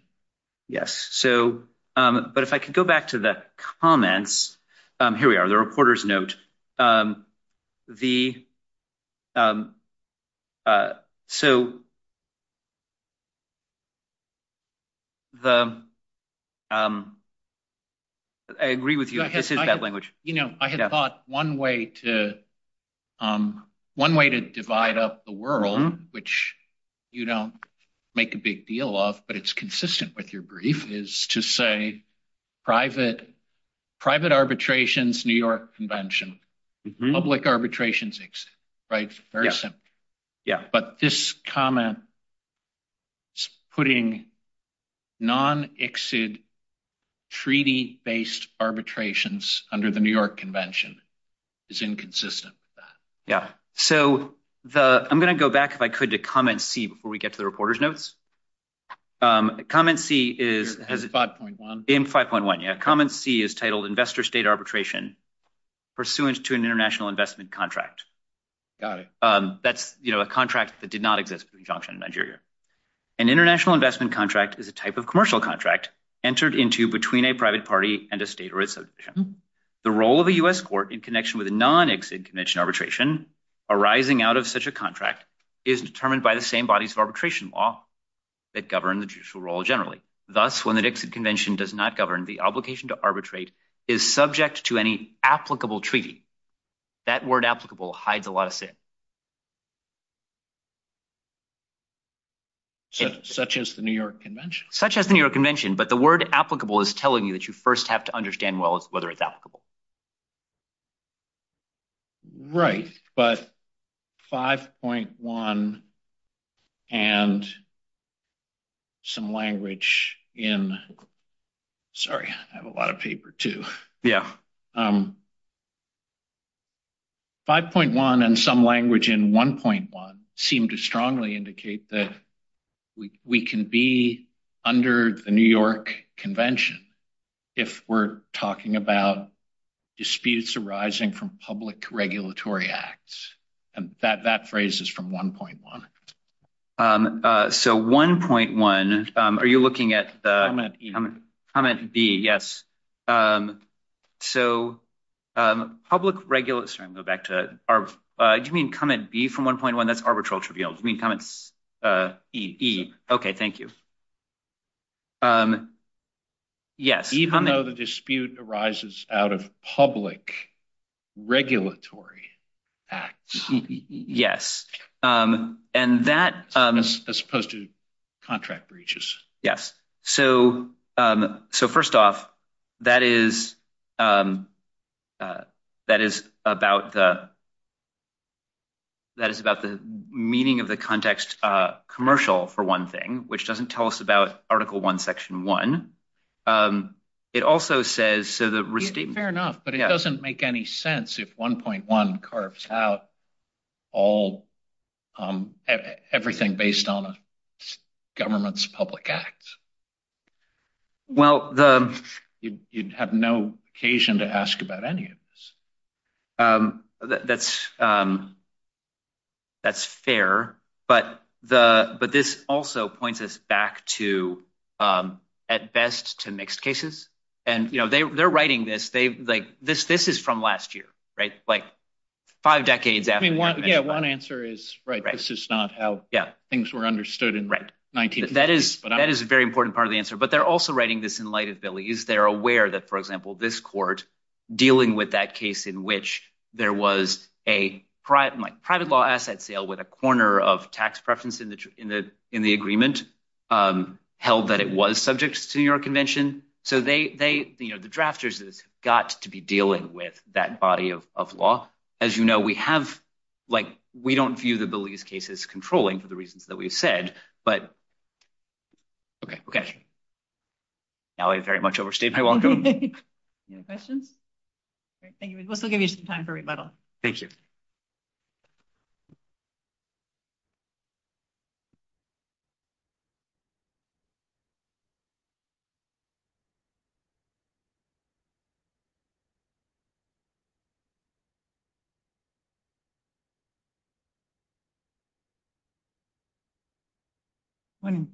Yes. So, um, but if I could go back to the comments, um, here we are, the reporters note, um, the, um, uh, so the, um, I agree with you. You know, I had thought one way to, um, one way to divide up the world, which you don't make a big deal of, but it's consistent with your brief is to say private, private arbitrations, New York convention, public arbitrations. Right. Yeah. But this comment putting non exit treaty based arbitrations under the New York convention is inconsistent with that. Yeah. So the, I'm going to go back if I could to comment C before we get to the reporters notes. Um, comment C is 5.1 in 5.1. A comment C is titled investor state arbitration pursuant to an international investment contract. Got it. Um, that's, you know, a contract that did not exist in Nigeria. An international investment contract is a type of commercial contract entered into between a private party and a state. The role of the U S court in connection with a non exit convention arbitration arising out of such a contract is determined by the same bodies of arbitration law that govern the judicial role generally. Thus, when the Dixit convention does not govern the obligation to arbitrate is subject to any applicable treaty. That word applicable hides a lot of sin. Such as the New York convention. Such as the New York convention. But the word applicable is telling you that you first have to understand whether it's applicable. Right. But 5.1 and some language in, sorry, I have a lot of paper too. Yeah. 5.1 and some language in 1.1 seem to strongly indicate that we can be under the New York convention if we're talking about disputes arising from public regulatory acts. And that, that phrase is from 1.1. So 1.1, are you looking at the comment B? Yes. So public regulates, I'm going to go back to our, do you mean comment B from 1.1? That's arbitral trivial. Do you mean comment E? Okay. Thank you. Yes. Even though the dispute arises out of public regulatory acts. Yes. And that. As opposed to contract breaches. Yes. So, so first off, that is, that is about the, that is about the meaning of the context commercial for one thing, which doesn't tell us about article one, section one. It also says, so the restatement. Fair enough. But it doesn't make any sense if 1.1 carves out all, everything based on government's public acts. Well, the. You'd have no occasion to ask about any of this. That's, that's fair. But the, but this also points us back to at best to mixed cases. And, you know, they, they're writing this. They like this, this is from last year, right? Like five decades. Yeah. One answer is right. This is not how things were understood in 19. That is, that is a very important part of the answer, but they're also writing this in light of Billy's. They're aware that, for example, this court dealing with that case in which there was a private, like private law asset sale with a corner of tax preference in the, in the, in the agreement held that it was subject to your convention. So they, they, you know, the drafters got to be dealing with that body of law. As you know, we have, like, we don't view the Billy's cases controlling for the reasons that we've said, but. Okay, okay. Now I very much overstayed my welcome. No questions. Great. Thank you. We'll still give you some time for rebuttal. Thank you. Good morning.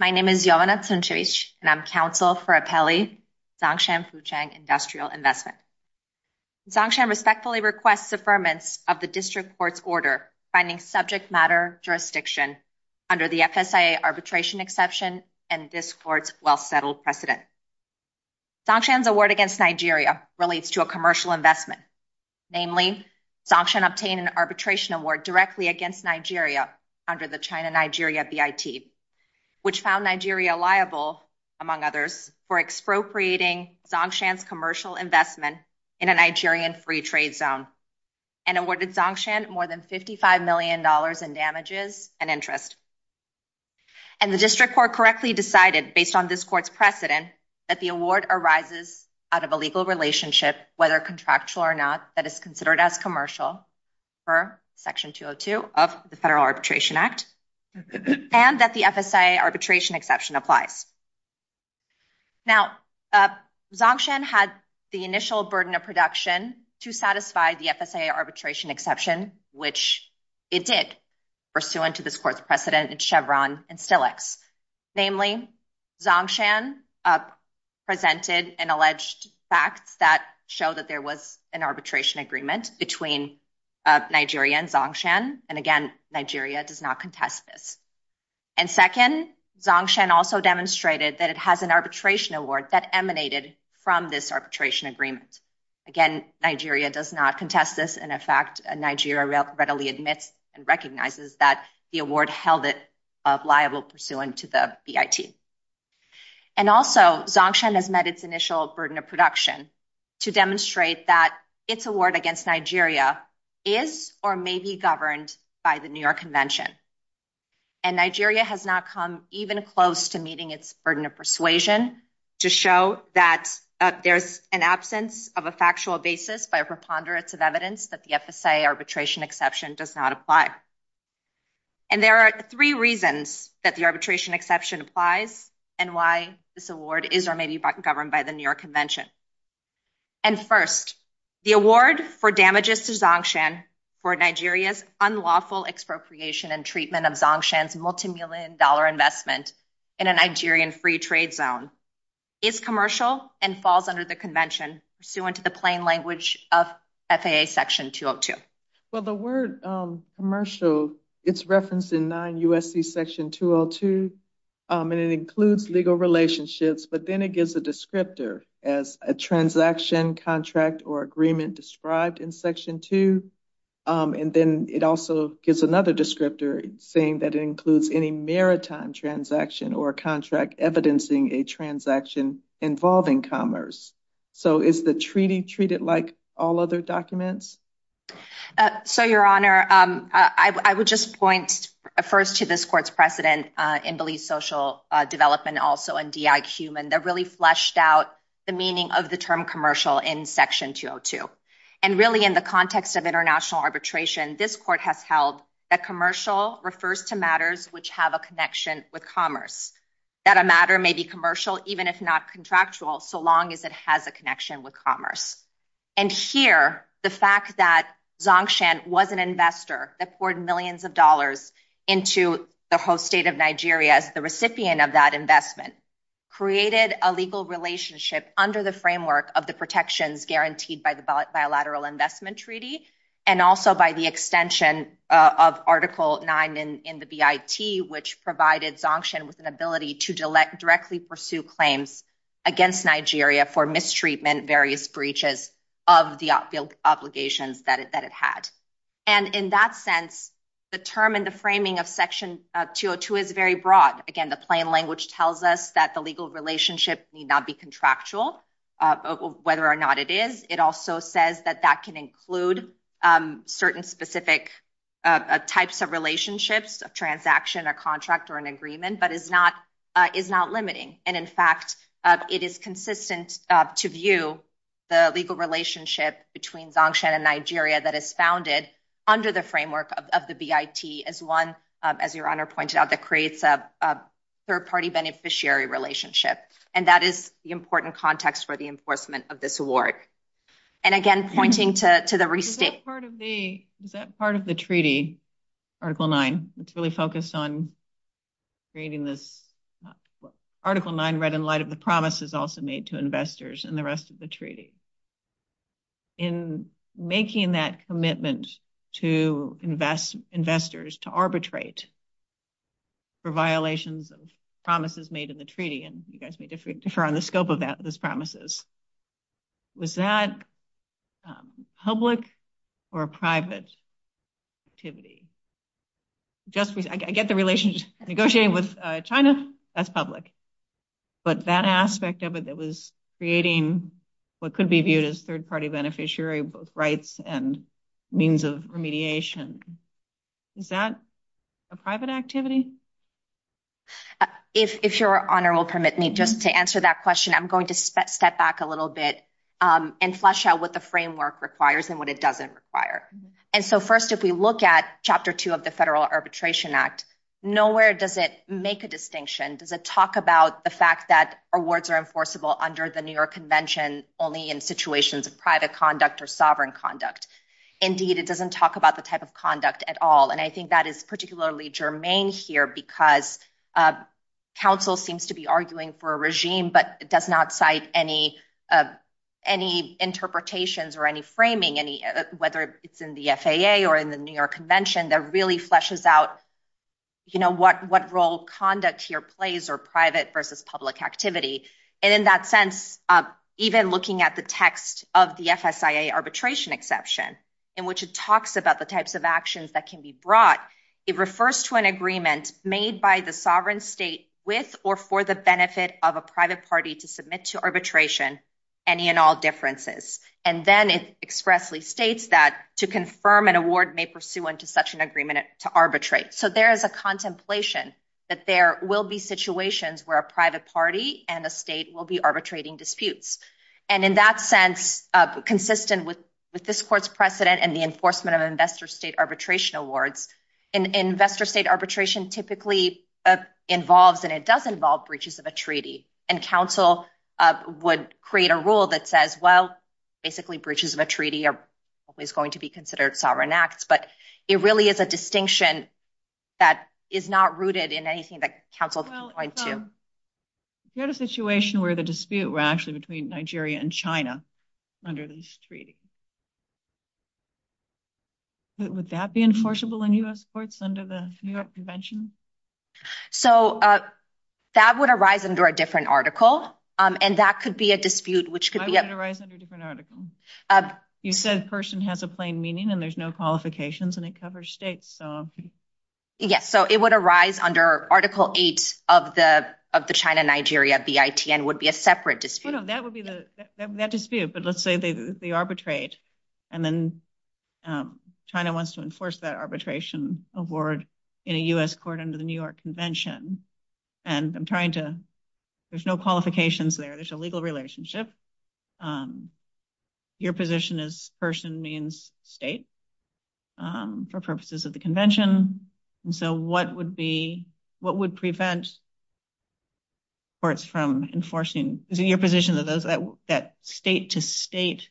My name is and I'm counsel for a pally industrial investment. Respectfully request the permits of the district court's order finding subject matter jurisdiction under the arbitration exception and discourse. Well, settled precedent, the word against Nigeria relates to a commercial investment. Namely, obtain an arbitration award directly against Nigeria under the China, Nigeria, which found Nigeria liable among others for expropriating commercial investment in a Nigerian free trade zone and awarded more than fifty five million dollars in damages and interest and the district court correctly decided based on this court's precedent that the award arises out of a legal relationship, whether contractual or not, that is considered as commercial for section two or two of the arbitration act. And that the arbitration exception applies. Now, had the initial burden of production to satisfy the arbitration exception, which it did pursuant to this court's precedent and Chevron. And namely, presented an alleged fact that showed that there was an arbitration agreement between Nigeria and and again, Nigeria does not contest this. And second, Zongshan also demonstrated that it has an arbitration award that emanated from this arbitration agreement. Again, Nigeria does not contest this. And in fact, Nigeria readily admits and recognizes that the award held it of liable pursuant to the BIT. And also Zongshan has met its initial burden of production to demonstrate that its award against Nigeria is or may be governed by the New York convention. And Nigeria has not come even close to meeting its burden of persuasion to show that there's an absence of a factual basis by preponderance of evidence that the FSA arbitration exception does not apply. And there are three reasons that the arbitration exception applies and why this award is or may be governed by the New York convention. And first, the award for damages to Zongshan for Nigeria's unlawful expropriation and treatment of Zongshan's multimillion dollar investment in a Nigerian free trade zone is commercial and falls under the convention pursuant to the plain language of FAA section 202. Well, the word commercial, it's referenced in non-USC section 202 and it includes legal relationships, but then it gives a descriptor as a transaction contract or agreement described in section two. And then it also gives another descriptor saying that it includes any maritime transaction or contract evidencing a transaction involving commerce. So is the treaty treated like all other documents? So your honor, I would just point first to this court's precedent in belief social development, also in DIQ and they're really fleshed out the meaning of the term commercial in section 202. And really in the context of international arbitration, this court has held that commercial refers to matters which have a connection with commerce, that a matter may be commercial, even if not contractual, so long as it has a connection with commerce. And here, the fact that Zongshan was an investor that poured millions of dollars into the host state of Nigeria as the recipient of that investment created a legal relationship under the framework of the protections guaranteed by the Bilateral Investment Treaty and also by the extension of article nine in the BIT, which provided Zongshan with an ability to directly pursue claims against Nigeria for mistreatment, various breaches of the obligations that it had. And in that sense, the term and the framing of section 202 is very broad. Again, the plain language tells us that the legal relationship need not be contractual, whether or not it is, it also says that that can include certain specific types of relationships of transaction or contract or an agreement, but is not limiting. And in fact, it is consistent to view the legal relationship between Zongshan and Nigeria that is founded under the framework of the BIT as one, as your honor pointed out, that creates a third-party beneficiary relationship. And that is the important context for the enforcement of this award. And again, pointing to the receipt. Is that part of the treaty, article nine? It's really focused on creating this. Article nine, read in light of the promises also made to investors and the rest of the treaty. In making that commitment to investors to arbitrate for violations of promises made in the treaty, and you guys may differ on the scope of that, those promises. Was that public or private activity? I get the relationship negotiating with China, that's public, but that aspect of it that was creating what could be viewed as a third-party beneficiary, both rights and means of remediation. Is that a private activity? If your honor will permit me, just to answer that question, I'm going to step back a little bit and flesh out what the framework requires and what it doesn't require. And so first, if we look at chapter two of the Federal Arbitration Act, nowhere does it make a distinction. Does it talk about the fact that awards are enforceable under the New York Convention, only in situations of private conduct or sovereign conduct? Indeed, it doesn't talk about the type of conduct at all. And I think that is particularly germane here because counsel seems to be arguing for a regime, but it does not cite any interpretations or any framing, whether it's in the FAA or in the New York Convention, that really fleshes out, you know, what role conduct here plays or private versus public activity. And in that sense, even looking at the text of the FSIA arbitration exception, in which it talks about the types of actions that can be brought, it refers to an agreement made by the sovereign state with or for the benefit of a private party to submit to arbitration any and all differences. And then it expressly states that to confirm an award may pursue into such an agreement to arbitrate. So there is a contemplation that there will be situations where a private party and a state will be arbitrating disputes. And in that sense, consistent with this court's precedent and the enforcement of investor state arbitration awards, investor state arbitration typically involves, and it does involve, breaches of a treaty. And counsel would create a rule that says, well, basically breaches of a treaty are always going to be it really is a distinction that is not rooted in anything that counsel is going to. Well, you had a situation where the dispute were actually between Nigeria and China under this treaty. Would that be enforceable in US courts under the New York Convention? So that would arise under a different article. And that could be a dispute, which could be a... That would arise under a different article. You said person has a plain meaning and there's no qualifications and it covers states. Yes. So it would arise under Article 8 of the China-Nigeria BITN would be a separate dispute. No, that would be that dispute. But let's say they arbitrate and then China wants to enforce that arbitration award in a US court under the New York Convention. And I'm trying to... There's qualifications there. There's a legal relationship. Your position is person means state for purposes of the convention. And so what would prevent courts from enforcing... Your position is that state to state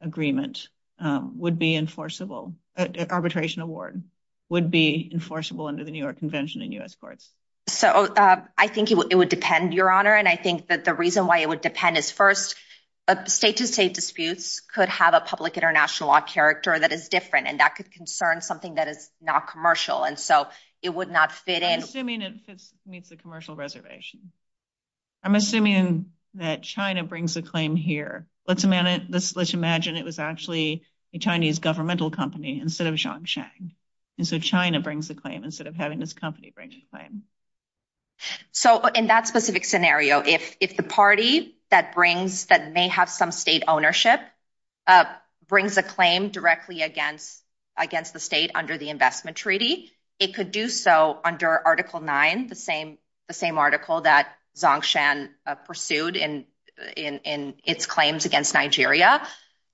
agreement would be enforceable, arbitration award would be enforceable under the New York Convention in US courts. So I think it would depend, Your Honor. And I think that the reason why it would depend is first, state to state disputes could have a public international law character that is different, and that could concern something that is not commercial. And so it would not fit in... I'm assuming it meets the commercial reservation. I'm assuming that China brings a claim here. Let's imagine it was actually a Chinese governmental company instead of Xiangshan. And so China brings a claim instead of having this company bring a claim. So in that specific scenario, if the party that may have some state ownership brings a claim directly against the state under the investment treaty, it could do so under Article 9, the same article that Xiangshan pursued in its claims against Nigeria.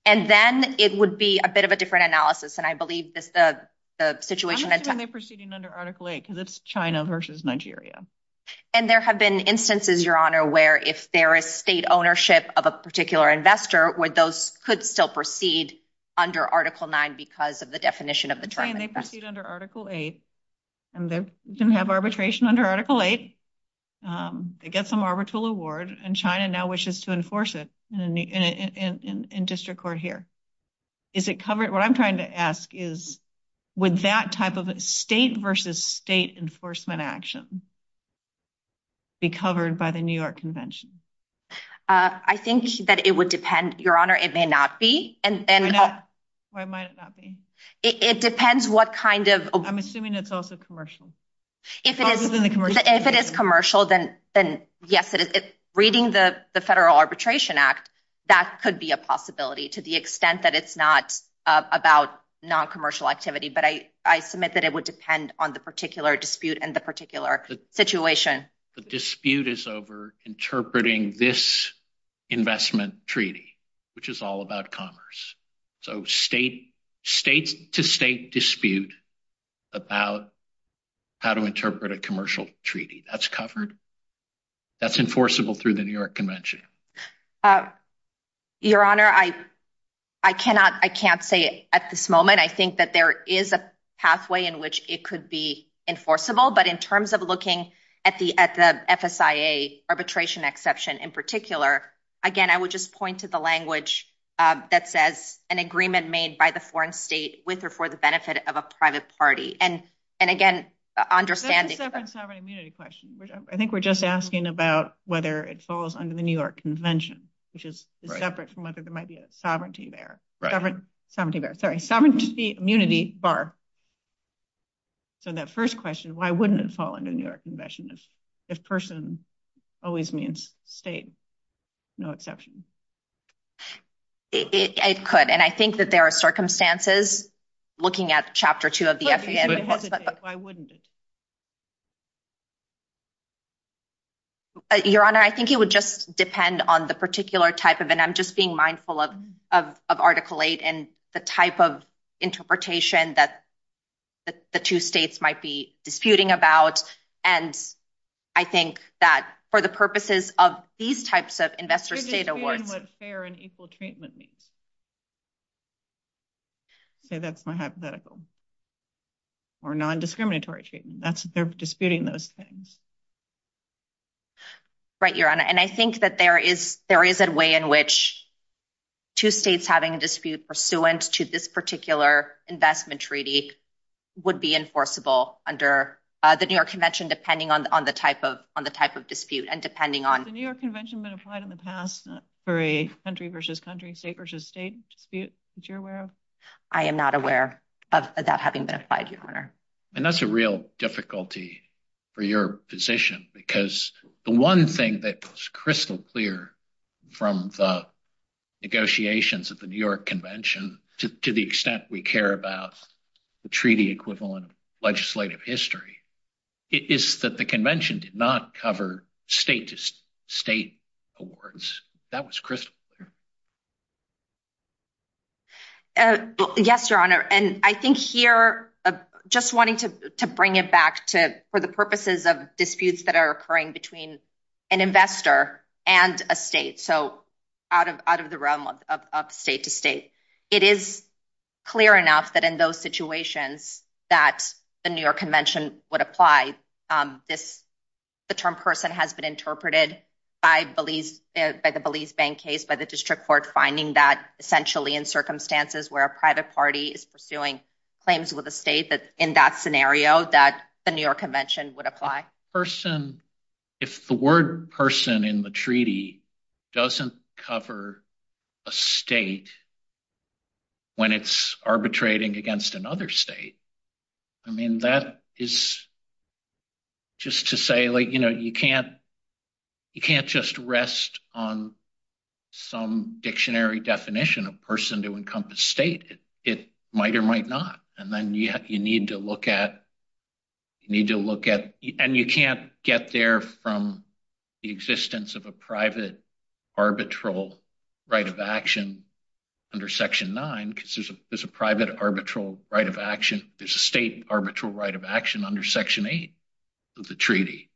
And then it would be a bit of a different analysis. And I believe that the situation... I'm assuming they're proceeding under Article 8, because it's China versus Nigeria. And there have been instances, Your Honor, where if there is state ownership of a particular investor, where those could still proceed under Article 9 because of the definition of the term. I'm saying they proceed under Article 8, and they have arbitration under Article 8. They get some arbitral award, and China now wishes to enforce it in district court here. What I'm trying to ask is, would that type of state versus state enforcement action be covered by the New York Convention? I think that it would depend, Your Honor. It may not be. It might not be. It depends what kind of... I'm assuming it's also commercial. If it is commercial, then yes, it is. Reading the Federal Arbitration Act, that could be a possibility to the extent that it's not about non-commercial activity. But I submit that it would depend on the particular dispute and the particular situation. The dispute is over interpreting this investment treaty, which is all about commerce. So state to state dispute about how to interpret a commercial treaty, that's covered. That's enforceable through the New York Convention. Your Honor, I can't say at this moment. I think that there is a pathway in which it could be enforceable. But in terms of looking at the FSIA arbitration exception in particular, again, I would just point to the language that says, an agreement made by the foreign state with or for the benefit of a private party. And again, understanding... It's a sovereign immunity question. I think we're just asking about whether it falls under the New York Convention, which is separate from whether there might be a sovereignty there. Right. Sovereignty there. Sorry. Sovereignty, immunity, bar. So that first question, why wouldn't it fall under the New York Convention if person always means state, no exception? It could. And I think that there are circumstances looking at Chapter 2 of the... But why wouldn't it? Your Honor, I think it would just depend on the particular type of... And I'm just being mindful of Article 8 and the type of interpretation that the two states might be disputing about. And I think that for the purposes of these types of investors... To be clear on what fair and equal treatment means. Okay. That's my hypothetical. Or non-discriminatory treatment. They're disputing those things. Right, Your Honor. And I think that there is a way in which two states having a dispute pursuant to this particular investment treaty would be enforceable under the New York Convention, depending on the type of dispute and depending on... Has the New York Convention been applied in the past for a country versus country, state versus state dispute that you're aware of? I am not aware of that having been applied, Your Honor. And that's a real difficulty for your position because the one thing that was crystal clear from the negotiations at the New York Convention, to the extent we care about the treaty equivalent legislative history, is that the convention did not cover state to state awards. That was crystal clear. Yes, Your Honor. And I think here, just wanting to bring it back for the purposes of disputes that are occurring between an investor and a state, so out of the realm of state to state, it is clear enough that in those situations that the New York Convention would apply. The term person has been interpreted by the Belize Bank case, by the district court, finding that essentially in circumstances where a private party is pursuing claims with a state, in that scenario, that the New York Convention would apply. Person, if the word person in the treaty doesn't cover a state when it's arbitrating against another state, I mean, that is just to say, like, you know, you can't just rest on some dictionary definition of person to encompass state. It might or might not. And then you need to look at, you need to look at, and you can't get there from the existence of a private arbitral right of action under Section 9, because there's a private arbitral right of action, there's a state arbitral right of action under Section 8 of the treaty.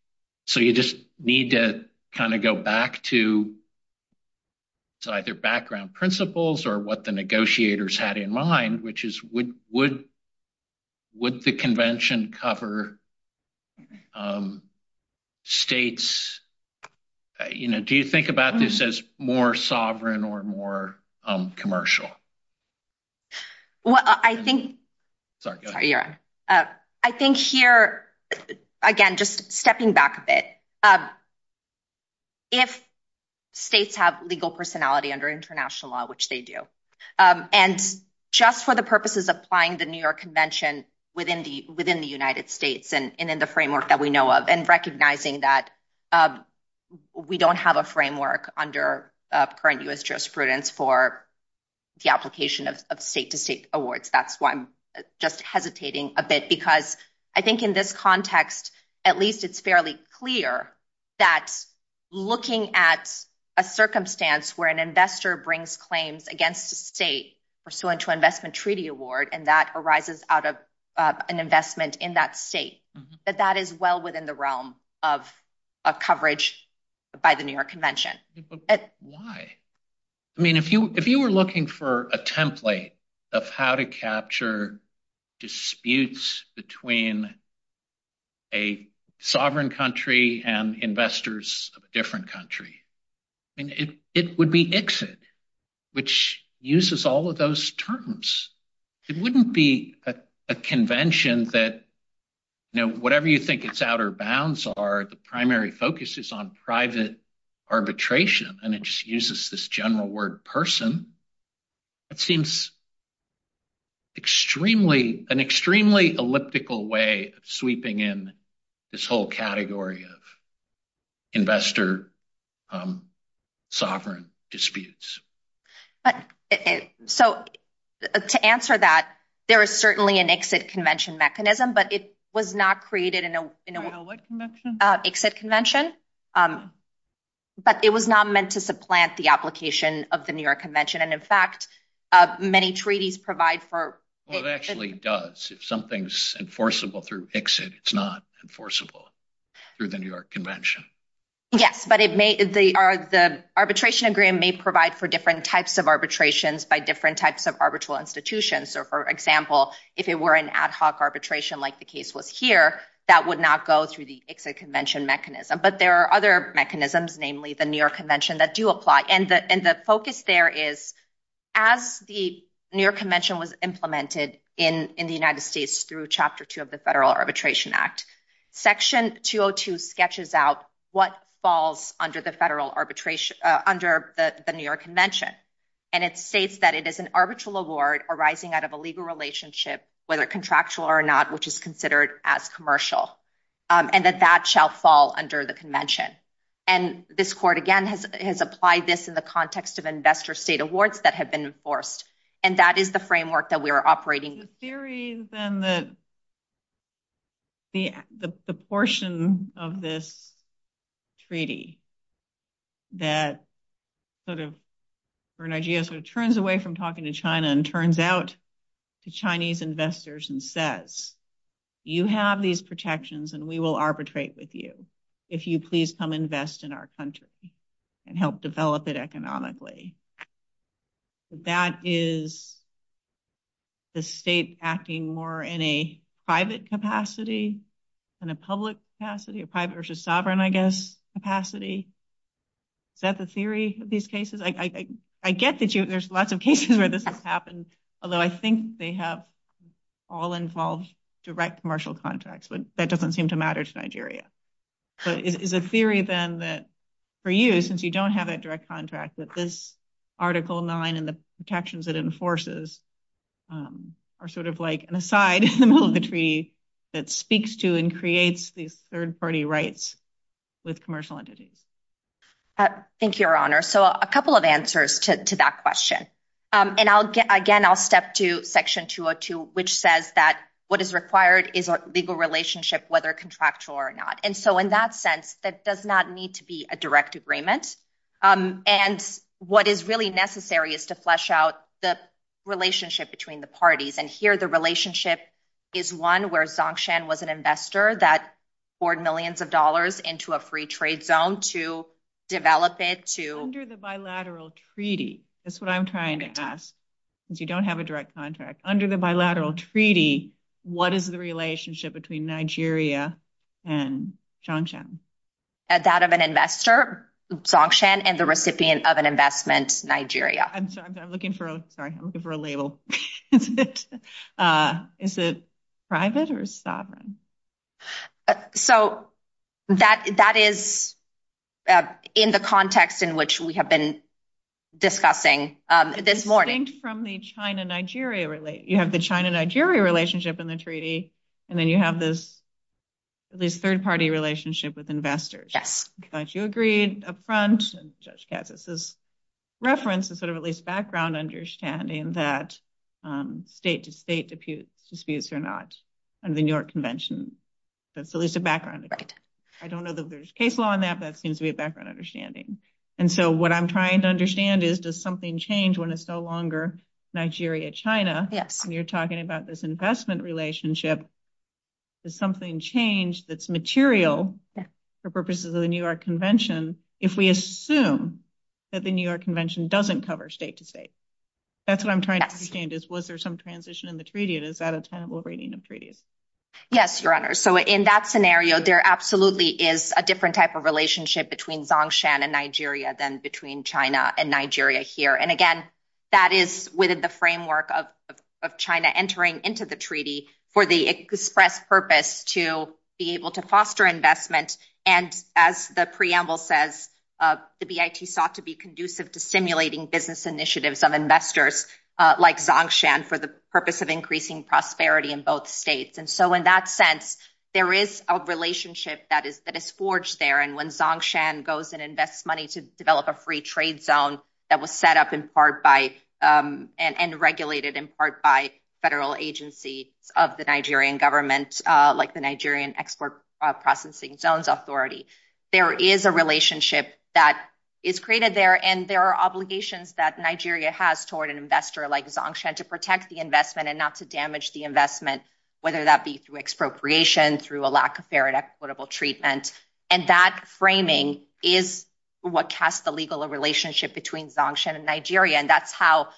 So, you just need to kind of go back to either background principles or what the negotiators had in mind, which is would the convention cover states, you know, do you think about this as more sovereign or more commercial? Well, I think, sorry, go ahead. I think here, again, just stepping back a bit, if states have legal personality under international law, which they do, and just for the purposes of applying the New York Convention within the United States and in the framework that we know of and recognizing that we don't have a framework under current U.S. jurisprudence for the application of state-to-state awards. That's why I'm just hesitating a bit, because I think in this context, at least it's fairly clear that looking at a circumstance where an investor brings claims against a state pursuant to an investment treaty award, and that arises out of an investment in that state, that that is well within the realm of coverage by the New York Convention. Why? I mean, if you were looking for a template of how to capture disputes between a sovereign country and investors of a different country, I mean, it would be exit, which uses all of those terms. It wouldn't be a convention that, you know, whatever you think its outer bounds are, the primary focus is on private arbitration, and it just uses this general word, person. It seems an extremely elliptical way of sweeping in this whole category of investor sovereign disputes. So, to answer that, there is certainly an exit convention mechanism, but it was not created in a what convention? Exit convention, but it was not meant to supplant the application of the New York Convention, and in fact, many treaties provide for... Well, it actually does. If something's enforceable through exit, it's not enforceable through the New York Convention. Yes, but the arbitration agreement may provide for different types of arbitrations by different types of arbitral institutions. So, for example, if it were an ad hoc arbitration like the case was here, that would not go through the exit convention mechanism, but there are other mechanisms, namely the New York Convention, that do apply, and the focus there is, as the New York Convention was implemented in the United States through Chapter 2 of the Federal Arbitration Act, Section 202 sketches out what falls under the New York Convention, and it states that it is an arbitral award arising out of a legal relationship, whether contractual or not, which is considered as commercial, and that that shall fall under the convention, and this court, again, has applied this in the context of investor state awards that have been enforced, and that is the framework that we are operating with. The theories and the portion of this treaty that sort of, or an idea, turns away from talking to China and turns out to Chinese investors and says, you have these protections and we will arbitrate with you if you please come invest in our country and help develop it economically. That is the state acting more in a private capacity than a public capacity, a private versus sovereign, I guess, capacity. Is that the theory of these cases? I get that there's lots of cases where this has happened, although I think they have all involved direct commercial contracts, but that doesn't seem to matter to Nigeria. But it is a theory, then, that for you, since you don't have a direct contract, that this Article 9 and the protections it enforces are sort of like an aside in the middle of the treaty that speaks to and creates these third-party rights with commercial entities. Thank you, Your Honor. So a couple of answers to that question. And again, I'll step to Section 202, which says that what is required is a legal relationship, whether contractual or not. And so in that sense, that does not need to be a direct agreement. And what is really necessary is to flesh out the relationship between the parties. And here the relationship is one where Dzongshan was an investor that poured millions of dollars into a free trade zone to develop it to... Under the bilateral treaty, that's what I'm trying to ask, because you don't have a direct contract. Under the bilateral treaty, what is the relationship between Nigeria and Dzongshan? That of an investor, Dzongshan, and the recipient of an investment, Nigeria. I'm sorry, I'm looking for a label. Is it private or sovereign? So that is in the context in which we have been discussing this morning. From the China-Nigeria... You have the China-Nigeria relationship in the treaty, and then you have this third-party relationship with investors. Yes. You agreed up front, and Judge Katsas' reference is sort of at least background understanding that state-to-state disputes are not under the New York Convention. That's at least a background. I don't know that there's case law on that, but that seems to be a background understanding. And so what I'm trying to understand is, does something change when it's no longer Nigeria-China? When you're talking about this investment relationship, does something change that's material for purposes of the New York Convention if we assume that the New York Convention doesn't cover state-to-state? That's what I'm trying to understand is, was there some transition in the treaty, and is that a tenable rating of treaties? Yes, Your Honor. So in that scenario, there absolutely is a different type of relationship between Dzongshan and Nigeria than between China and Nigeria here. And again, that is within the express purpose to be able to foster investment. And as the preamble says, the BIT sought to be conducive to stimulating business initiatives of investors like Dzongshan for the purpose of increasing prosperity in both states. And so in that sense, there is a relationship that is forged there. And when Dzongshan goes and invests money to develop a free trade zone that was set up in part by federal agency of the Nigerian government, like the Nigerian Export Processing Zones Authority, there is a relationship that is created there. And there are obligations that Nigeria has toward an investor like Dzongshan to protect the investment and not to damage the investment, whether that be through expropriation, through a lack of fair and equitable treatment. And that framing is what casts the legal relationship between Dzongshan and Nigeria. And that's how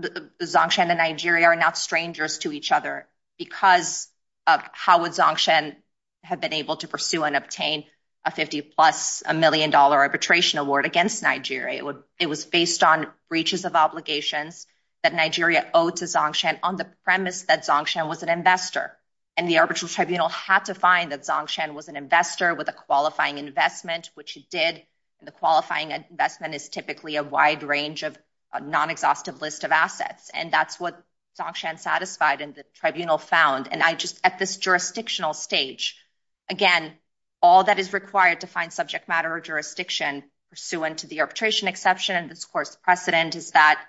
Dzongshan and Nigeria are not strangers to each other because of how would Dzongshan have been able to pursue and obtain a 50 plus a million dollar arbitration award against Nigeria. It was based on breaches of obligations that Nigeria owed to Dzongshan on the premise that Dzongshan was an investor. And the arbitral tribunal had to find that Dzongshan was an investor with a qualifying investment, which he did. And the qualifying investment is typically a wide range of non-exhaustive list of assets. And that's what Dzongshan satisfied and the tribunal found. And I just at this jurisdictional stage, again, all that is required to find subject matter or jurisdiction pursuant to the arbitration exception and this court's precedent is that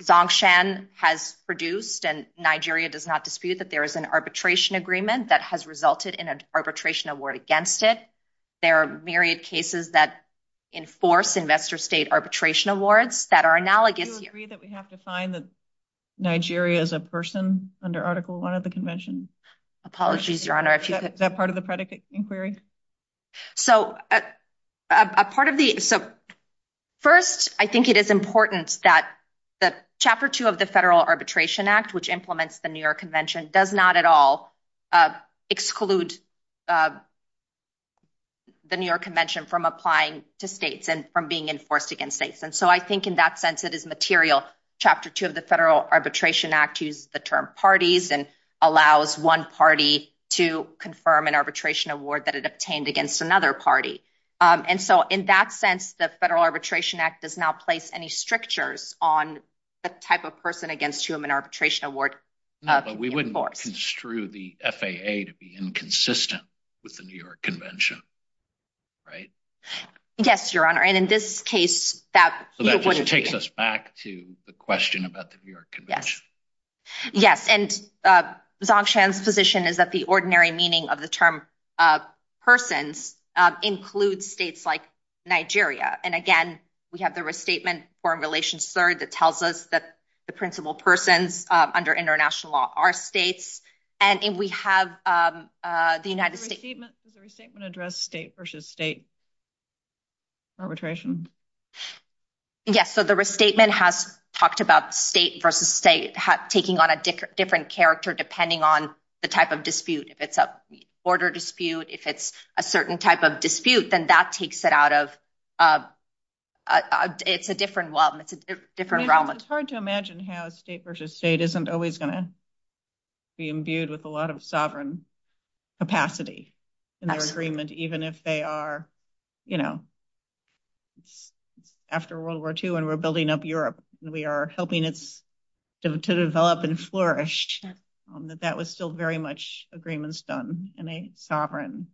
Dzongshan has produced and Nigeria does not dispute that there is an arbitration agreement that has resulted in an arbitration award against it. There are myriad cases that enforce investor state arbitration awards that are analogous. Do you agree that we have to find that Nigeria is a person under article one of the convention? Apologies, your honor. Is that part of the predicate inquiry? So a part of the, so first, I think it is important that the chapter two of the Federal Arbitration Act, which implements the New York Convention does not at all exclude the New York Convention from applying to states and from being enforced against states. And so I think in that sense, it is material. Chapter two of the Federal Arbitration Act is the term parties and allows one party to confirm an arbitration award that it obtained against another party. And so in that sense, the Federal Arbitration Act does not place any strictures on the type of person against whom an arbitration award. We wouldn't construe the FAA to be inconsistent with the New York Convention, right? Yes, your honor. And in this case, that wouldn't take us back to the question about the New York Convention. Yes. And Zongshan's position is that the ordinary meaning of the term persons include states like Nigeria. And again, we have the restatement formulation third that the principal persons under international law are states. And we have the United States... Does the restatement address state versus state arbitration? Yes. So the restatement has talked about state versus state taking on a different character depending on the type of dispute. If it's a border dispute, if it's a certain type of dispute, then that takes it out of... It's a different realm. It's hard to imagine how state versus state isn't always going to be imbued with a lot of sovereign capacity in their agreement, even if they are... After World War II and we're building up Europe, we are helping it to develop and flourish. That was still very much agreements done in a sovereign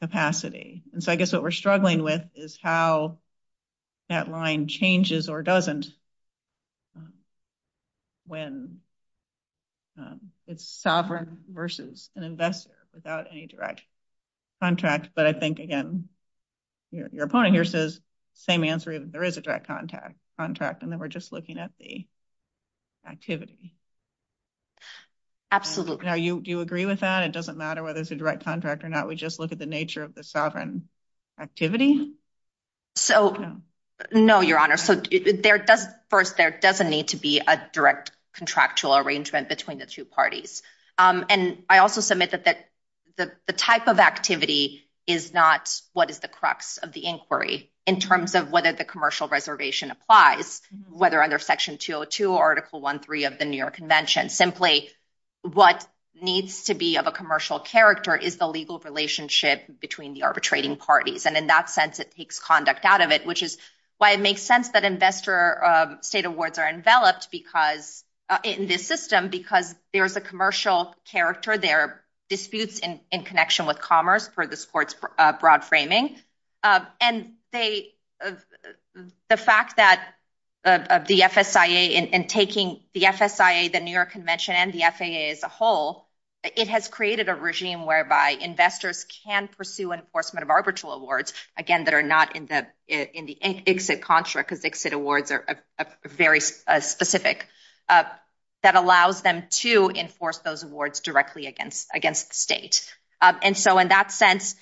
capacity. And so I guess what we're struggling with is how that line changes or doesn't when it's sovereign versus an investor without any direct contracts. But I think, again, your opponent here says same answer. There is a direct contract. And then we're just looking at the activity. Absolutely. Now, do you agree with that? It doesn't matter whether it's a direct contract or not. We just look at the nature of the sovereign activity? No, Your Honor. First, there doesn't need to be a direct contractual arrangement between the two parties. And I also submit that the type of activity is not what is the crux of the inquiry in terms of whether the commercial reservation applies, whether under Section 202 or Article I.3 of the New York Convention. Simply, what needs to be of a commercial character is the legal relationship between the arbitrating parties. And in that sense, it takes conduct out of it, which is why it makes sense that investor state awards are enveloped in this system because there's a commercial character. There are of the FSIA in taking the FSIA, the New York Convention, and the FSIA as a whole, it has created a regime whereby investors can pursue enforcement of arbitral awards, again, that are not in the ICSID construct, because ICSID awards are very specific, that allows them to enforce those awards directly against the state. And so in that sense,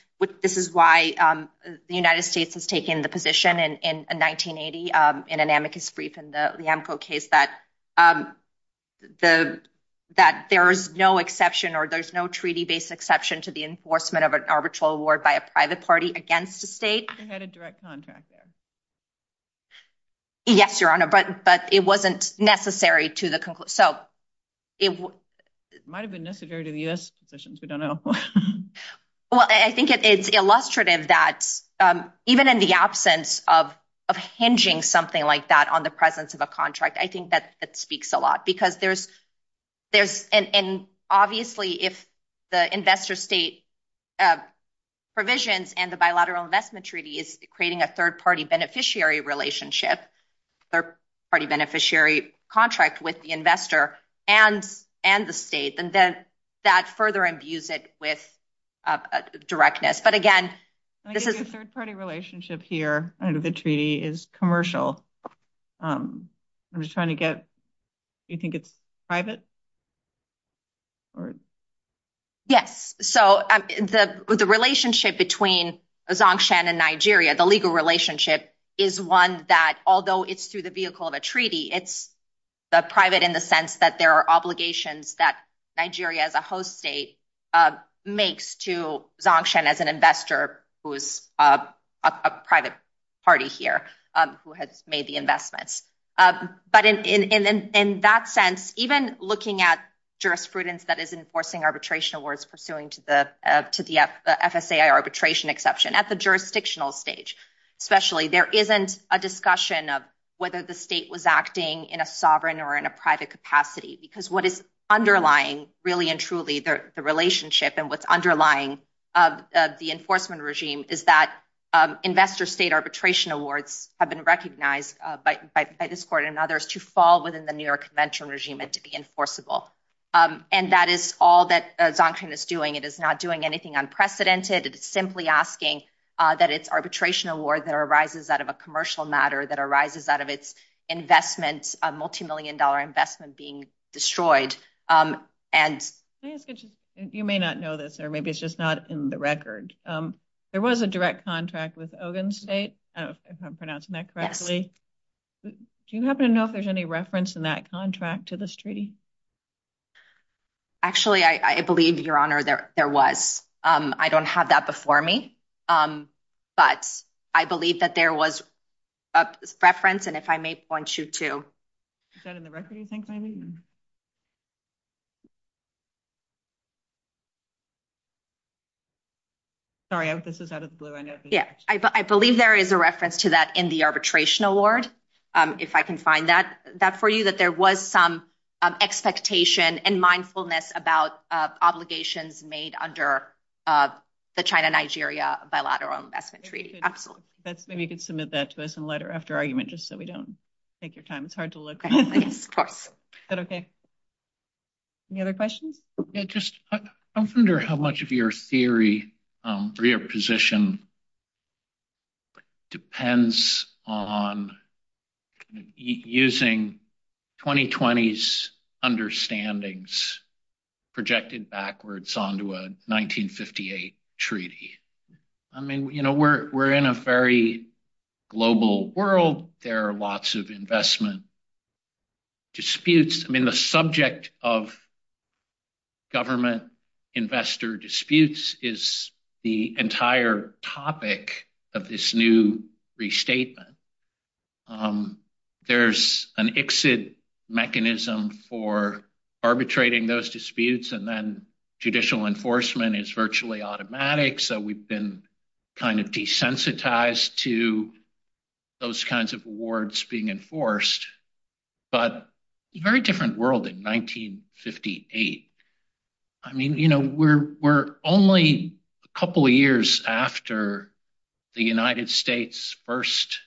this is why the United States has taken the position in 1980 in an amicus brief in the LIEMCO case that there is no exception or there's no treaty-based exception to the enforcement of an arbitral award by a private party against the state. They had a direct contract there. Yes, Your Honor, but it wasn't necessary to the conclusion. It might have been necessary to the U.S. positions. We don't know. Well, I think it's illustrative that even in the absence of hinging something like that on the presence of a contract, I think that speaks a lot because there's, and obviously, if the investor state provisions and the bilateral investment treaty is creating a third-party beneficiary relationship, third-party beneficiary contract with the investor and the state, that further imbues it with directness. But again, this is a third-party relationship here. I know the treaty is commercial. I'm just trying to get, do you think it's private? Yes. So the relationship between Zangshan and Nigeria, the legal relationship, is one that, although it's through the vehicle of a treaty, it's private in the sense that there are obligations that Nigeria as a host state makes to Zangshan as an investor who is a private party here who has made the investment. But in that sense, even looking at jurisprudence that is enforcing arbitration awards pursuant to the FSAI arbitration exception at the jurisdictional stage, especially, there isn't a discussion of whether the state was acting in a sovereign or in a private capacity because what is underlying really and truly the relationship and what's underlying of the enforcement regime is that investor state arbitration awards have been recognized by this court and others to fall within the New York Conventional regime and to be enforceable. And that is all that Zangshan is doing. It is not doing anything unprecedented. It's simply asking that its arbitration award that arises out of a commercial matter, that arises out of its multi-million dollar investment being destroyed. You may not know this, or maybe it's just not in the record. There was a direct contract with Ogun State, if I'm pronouncing that correctly. Do you happen to know if there's any reference in that contract to this treaty? Actually, I believe, Your Honor, there was. I don't have that before me, but I believe that there was a reference. And if I may point you to... Is that in the record, do you think, Aileen? Sorry, this is out of the blue, I know. Yeah, I believe there is a reference to that in the arbitration award, if I can find that for you, that there was some expectation and mindfulness about obligations made under the China-Nigeria bilateral investment treaty. Excellent. That's good. You can submit that to us in letter after argument, just so we don't take your time. It's hard to look. Is that okay? Any other questions? Yeah, just I wonder how much of your theory or your position depends on using 2020's understandings projected backwards onto a 1958 treaty? I mean, we're in a very global world. There are lots of investment disputes. The subject of government investor disputes is the entire topic of this new restatement. There's an exit mechanism for arbitrating those disputes, and then judicial enforcement is virtually automatic. So we've been desensitized to those kinds of awards being enforced. But a very different world in 1958. I mean, we're only a couple of years after the United States first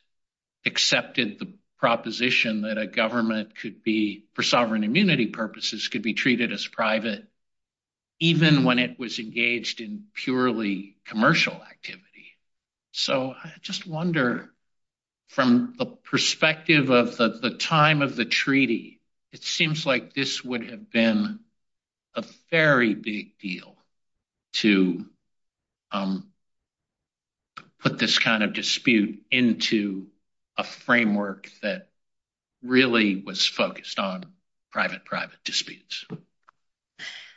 accepted the proposition that a government could be, for sovereign immunity purposes, could be treated as private, even when it was engaged in purely commercial activity. So I just wonder, from the perspective of the time of the treaty, it seems like this would have been a very big deal to put this kind of dispute into a framework that really was focused on private, private disputes.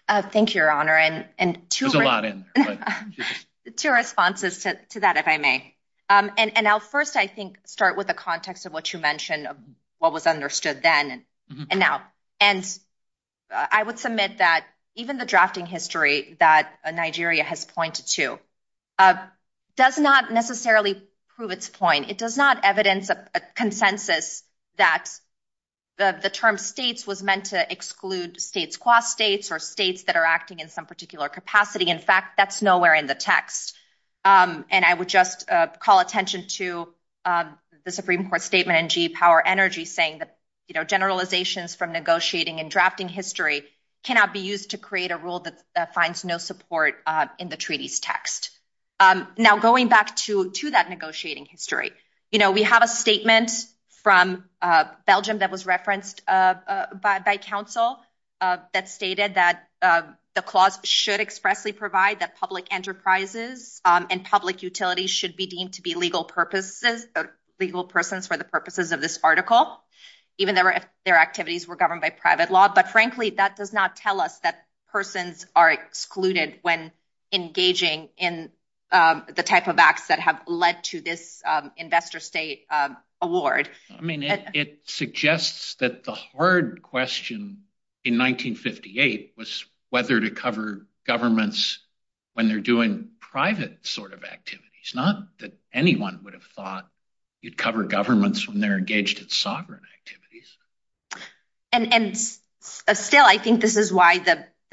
Thank you, Your Honor. There's a lot in there. Two responses to that, if I may. And I'll first, I think, start with the context of what you mentioned, of what was understood then and now. And I would submit that even the drafting history that Nigeria has pointed to does not necessarily prove its point. It does not evidence a consensus that the term states was meant to exclude states qua states, or states that are acting in some particular capacity. In fact, that's nowhere in the text. And I would just call attention to the Supreme Court statement in G Power Energy saying that generalizations from negotiating and drafting history cannot be used to create a rule that finds no support in the treaty's text. Now, going back to that negotiating history, we have a statement from Belgium that was referenced by counsel that stated that the clause should expressly provide that public enterprises and public utilities should be deemed to be legal purposes, legal persons for the purposes of this article, even if their activities were governed by private law. But frankly, that does not tell us that persons are excluded when engaging in the type of acts that have led to this investor state award. I mean, it suggests that the hard question in 1958 was whether to cover governments when they're doing private sort of activities, not that anyone would have thought you'd cover governments when they're engaged in sovereign activities. And still, I think this is why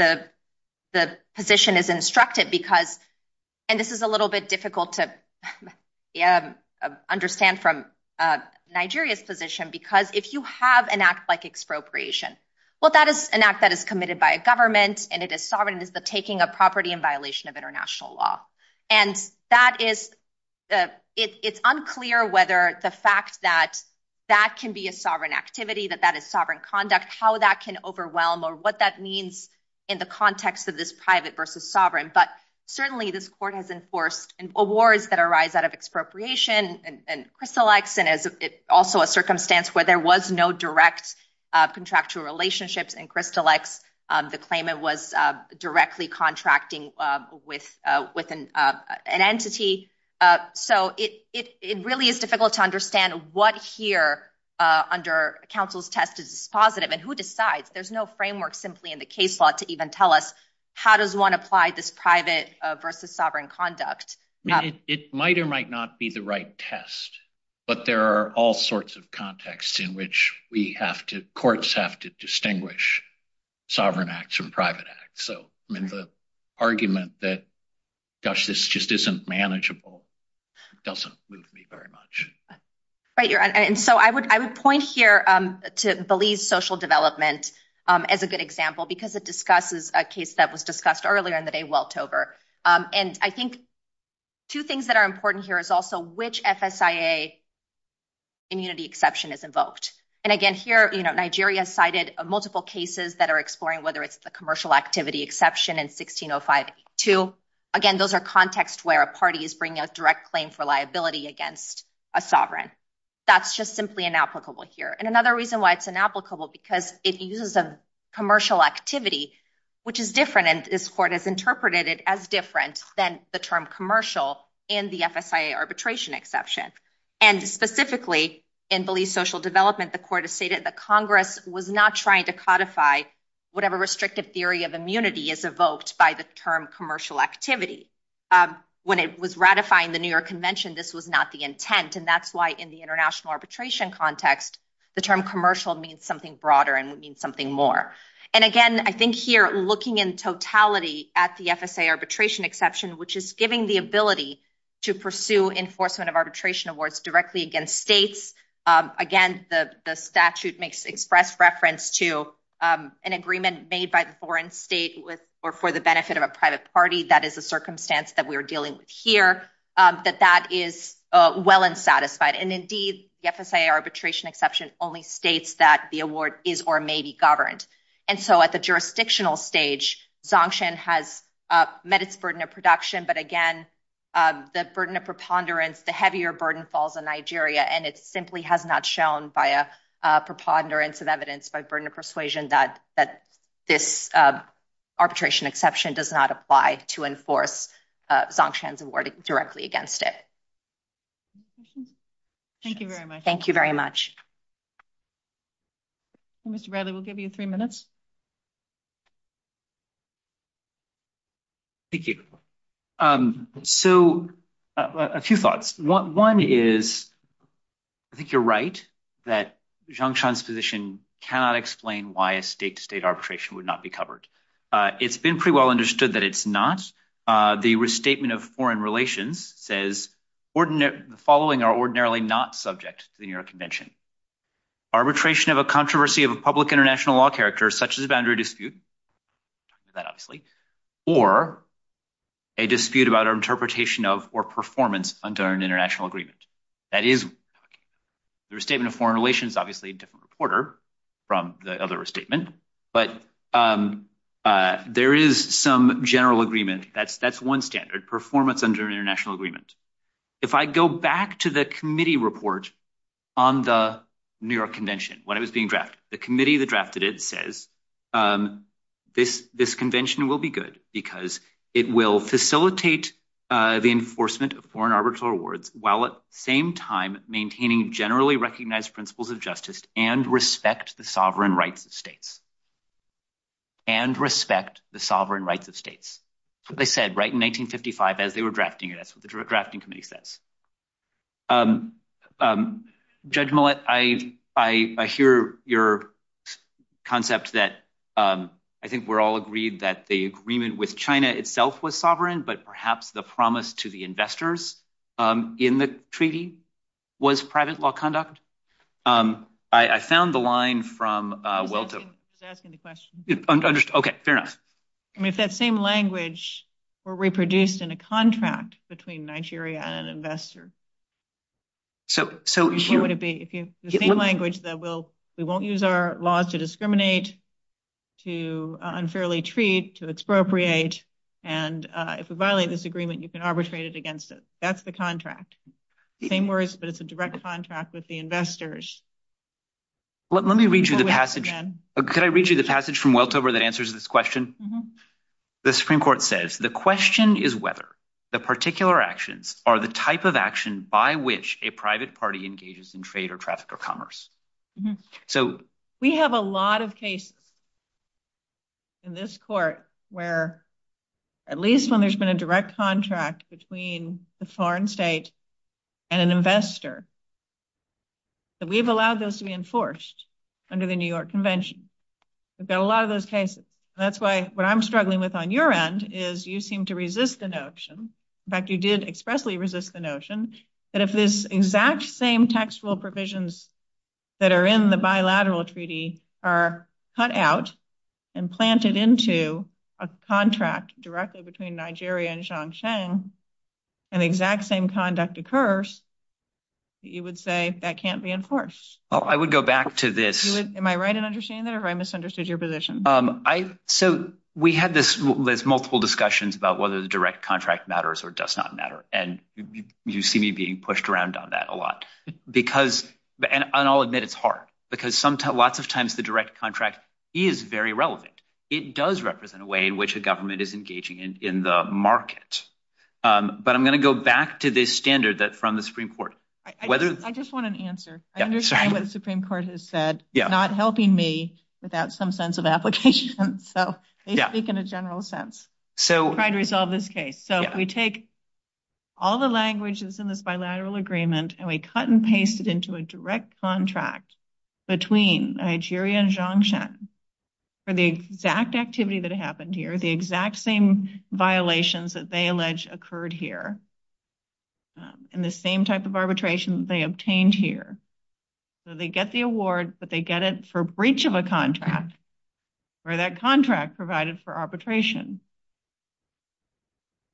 the position is instructed because, and this is a little bit difficult to understand from Nigeria's position, because if you have an act like expropriation, well, that is an act that is committed by a government and it is sovereign, is the taking of property in violation of international law. And that is, it's unclear whether the fact that that can be a sovereign activity, that that is sovereign conduct, how that can overwhelm or what that means in the context of this private versus sovereign. But certainly, this court has enforced awards that arise out of expropriation and crystal acts, and it's also a circumstance where there was no direct contractual relationship in crystal acts. The claimant was directly contracting with an entity. So it really is difficult to understand what here under counsel's test is positive and who decides. There's no framework simply in the case law to even tell us how does one apply this private versus sovereign conduct. It might or might not be the right test, but there are all sorts of contexts in which we have to, courts have to distinguish sovereign acts from private acts. So, I mean, the argument that, gosh, this just isn't manageable doesn't move me very much. Right. And so I would point here to believe social development as a good example, because it discusses a case that was discussed earlier in the day, Weltover. And I think two things that are important here is also which FSIA immunity exception is invoked. And again, here, Nigeria cited multiple cases that are exploring whether it's a commercial activity exception in 1605-2. Again, those are contexts where a party is bringing a direct claim for liability against a sovereign. That's just simply inapplicable here. And another reason why it's inapplicable, because it uses a commercial activity, which is different, and this court has interpreted it as different than the term commercial in the FSIA arbitration exception. And specifically in belief social development, the court has stated that Congress was not trying to codify whatever restrictive theory of immunity is evoked by the term commercial activity. When it was ratifying the New York Convention, this was not the intent. And that's why in the international arbitration context, the term commercial means something broader and means something more. And again, I think here, looking in totality at the FSIA arbitration exception, which is giving the ability to pursue enforcement of arbitration awards directly against states. Again, the statute makes express reference to an agreement made by the private party. That is a circumstance that we are dealing with here. But that is well unsatisfied. And indeed, the FSIA arbitration exception only states that the award is or may be governed. And so at the jurisdictional stage, Zongshan has met its burden of production, but again, the burden of preponderance, the heavier burden falls on Nigeria, and it simply has not shown by a preponderance of evidence, but burden of persuasion that this arbitration exception does not apply to enforce Zongshan's award directly against it. Thank you very much. Thank you very much. Mr. Bradley, we'll give you three minutes. Thank you. So a few thoughts. One is, I think you're right that Zongshan's position cannot explain why a state-to-state arbitration would not be covered. It's been pretty well understood that it's not. The restatement of foreign relations says, the following are ordinarily not subject to the New York Convention. Arbitration of a controversy of a public international law character, such as a boundary dispute, that obviously, or a dispute about our interpretation of or performance under an international agreement. That is, the restatement of foreign relations, obviously, a different reporter from the other restatement, but there is some general agreement. That's one standard, performance under an international agreement. If I go back to the committee report on the New York Convention, when it was being drafted, the committee that drafted it says, this convention will be good because it will facilitate the enforcement of foreign and respect the sovereign rights of states. And respect the sovereign rights of states. So they said, right in 1955, as they were drafting it, that's what the drafting committee says. Judge Millett, I hear your concept that I think we're all agreed that the agreement with China itself was sovereign, but perhaps the promise to the investors in the treaty was private law conduct? I found the line from... Okay, fair enough. I mean, if that same language were reproduced in a contract between Nigeria and an investor. So, what would it be? If the same language that we won't use our laws to discriminate, to unfairly treat, to expropriate, and if we violate this agreement, you can arbitrate it that's the contract. Same words, but it's a direct contract with the investors. Let me read you the passage. Can I read you the passage from Weltover that answers this question? The Supreme Court says, the question is whether the particular actions are the type of action by which a private party engages in trade or traffic or commerce. So... We have a lot of cases in this court where at least when there's been a direct contract between foreign state and an investor, that we've allowed those to be enforced under the New York Convention. We've got a lot of those cases. That's why what I'm struggling with on your end is you seem to resist the notion, in fact, you did expressly resist the notion that if this exact same textual provisions that are in the bilateral treaty are cut out and planted into a contract directly between Nigeria and Shaanxiang, and the exact same conduct occurs, you would say that can't be enforced. I would go back to this... Am I right in understanding that or have I misunderstood your position? So we had this multiple discussions about whether the direct contract matters or does not matter. And you see me being pushed around on that a lot because, and I'll admit it's hard, because lots of times the direct contract is very relevant. It does represent a way in which the government is engaging in the market. But I'm going to go back to this standard that's from the Supreme Court. I just want an answer. I understand what the Supreme Court has said, not helping me without some sense of application. So they speak in a general sense. So try to resolve this case. So we take all the languages in this bilateral agreement and we cut and paste it into a direct contract between Nigeria and Shaanxiang for the exact activity that happened here, the exact same violations that they allege occurred here, and the same type of arbitration they obtained here. So they get the award, but they get it for breach of a contract or that contract provided for arbitration.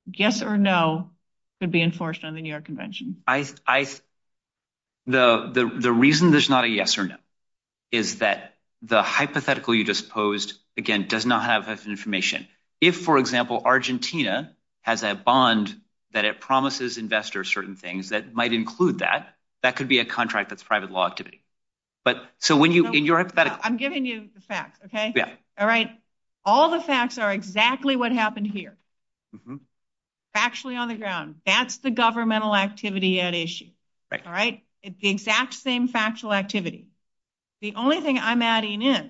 Yes or no could be enforced under the New York Convention. The reason there's not a yes or no is that the hypothetical you just posed, again, does not have that information. If, for example, Argentina has a bond that it promises investors certain things that might include that, that could be a contract that's private law activity. I'm giving you the facts, okay? All right. All the facts are exactly what happened here. Factually on the ground. That's the governmental activity at issue, all right? It's the exact same factual activity. The only thing I'm adding in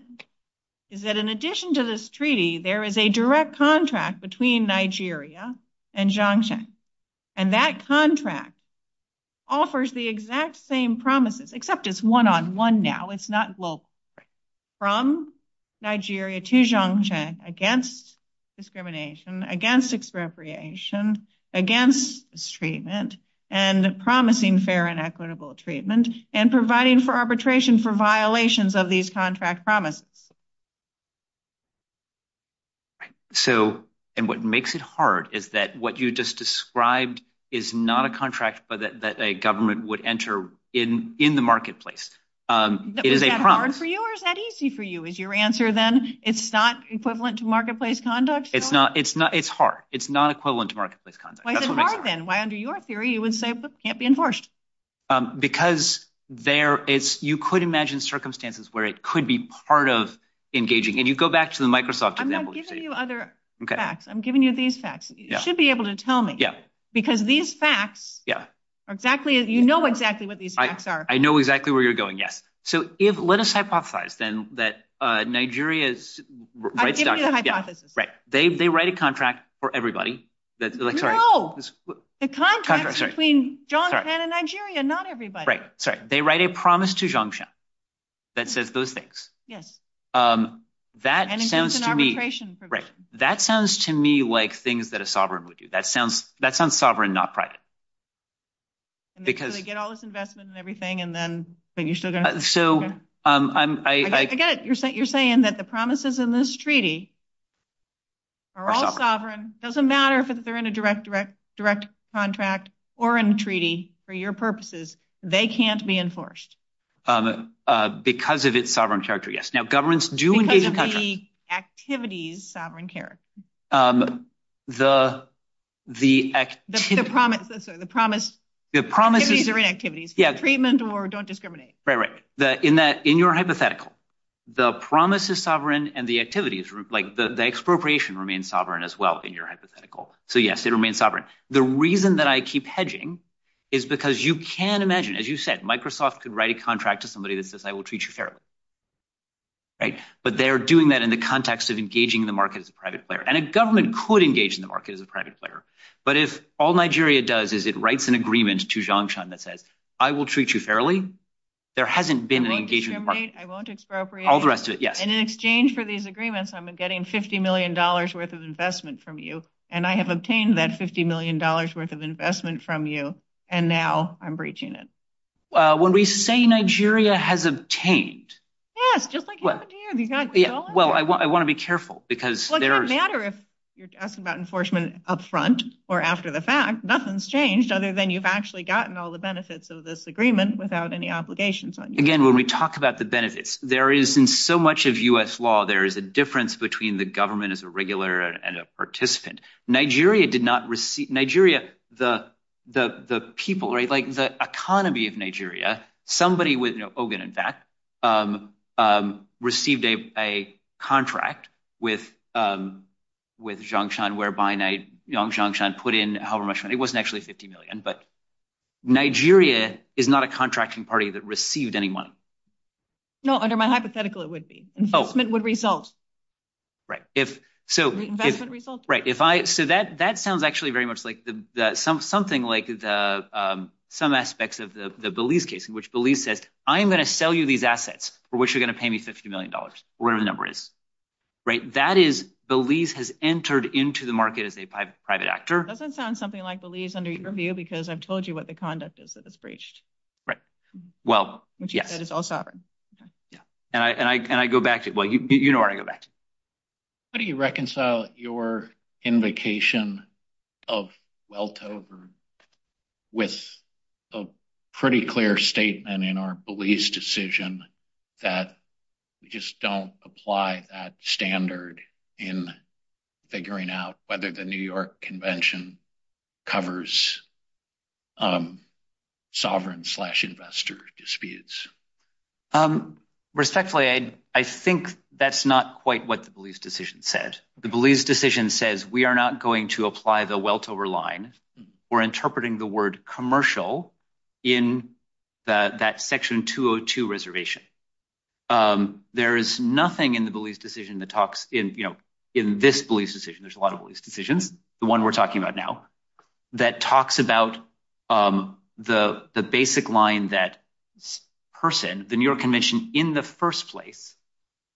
is that in addition to this treaty, there is a direct contract between Nigeria and Shaanxiang, and that contract offers the exact same promises, except it's one-on-one now, it's not global, from Nigeria to Shaanxiang against discrimination, against expropriation, against treatment, and promising fair and equitable treatment, and providing for arbitration for violations of these contract promises. So, and what makes it hard is that what you just described is not a contract that a government would enter in the marketplace. Is that hard for you or is that easy for you? Is your answer then it's not equivalent to marketplace conduct? It's not, it's not, it's hard. It's not equivalent to marketplace conduct. Why is it hard then? Why, under your theory, you would say it can't be enforced? Because there is, you could imagine circumstances where it could be part of engaging, and you go back to the Microsoft example. I'm not giving you other facts. I'm giving you these facts. You should be able to tell me, because these facts are exactly, you know exactly what these facts are. I know exactly where you're going, yes. So if, let us hypothesize then that Nigeria's... I've given you the hypothesis. Right, they write a contract for everybody. No, the contract between Japan and Nigeria, not everybody. Right, sorry. They write a promise to Jiangshan that says those things. Yes. That sounds to me... And it's just an arbitration. Right, that sounds to me like things that a sovereign would do. That sounds, that sounds sovereign, not private. Because... So they get all this investment and everything, and then you should... So I'm... I get it. You're saying that the promises in this treaty are all sovereign. It doesn't matter if they're in a direct, direct, direct contract or in a treaty for your purposes. They can't be enforced. Because of its sovereign character, yes. Now, governments do engage in such... Because of the activities, sovereign character. Um, the, the... The promise, sorry, the promise... The promise... Activities are in activities. Yes. Treatment or don't discriminate. Right, right. In that, in your hypothetical, the promise is sovereign and the activities, like the expropriation remain sovereign as well in your hypothetical. So yes, they remain sovereign. The reason that I keep hedging is because you can imagine, as you said, Microsoft could write a contract to somebody that says, I will treat you fairly. Right? But they're doing that in the context of engaging the market as a government. And a government could engage in the market as a private player. But if all Nigeria does is it writes an agreement to Zhang Shan that says, I will treat you fairly. There hasn't been an engagement. I won't discriminate. I won't expropriate. All the rest of it. Yes. And in exchange for these agreements, I'm getting $50 million worth of investment from you. And I have obtained that $50 million worth of investment from you. And now I'm breaching it. Uh, when we say Nigeria has obtained... Yeah, it's just like happened here. Well, I want... I want to be careful because... It doesn't matter if you're asking about enforcement up front or after the fact, nothing's changed other than you've actually gotten all the benefits of this agreement without any obligations. Again, when we talk about the benefits, there is in so much of US law, there is a difference between the government as a regular and a participant. Nigeria did not receive... Nigeria, the people, right? Like the economy of Nigeria, somebody was, you know, contract with, um, with Zhang Shan, whereby Zhang Shan put in however much money. It wasn't actually $50 million, but Nigeria is not a contracting party that received any money. No, under my hypothetical, it would be. Investment would result. Right. If so, right. If I, so that, that sounds actually very much like something like the, um, some aspects of the Belize case in which Belize said, I'm going to sell you these assets for which you're going to pay me $50 million, whatever the number is. Right. That is Belize has entered into the market as a private actor. It doesn't sound something like Belize under your view, because I've told you what the conduct is that it's breached. Right. Well, yeah. And I, and I go back to it. Well, you, you know, I go back to it. How do you reconcile your invocation of weltover with a pretty clear statement in our Belize decision that just don't apply that standard in figuring out whether the New York convention covers, um, sovereign slash investor disputes. Um, respectfully, I, I think that's not quite what the Belize decision says. The Belize decision says we are not going to apply the weltover line or interpreting the word commercial in that section 202 reservation. Um, there is nothing in the Belize decision that talks in, you know, in this Belize decision, there's a lot of these decisions. The one we're talking about now that talks about, um, the, the basic line that person, the New York convention in the first place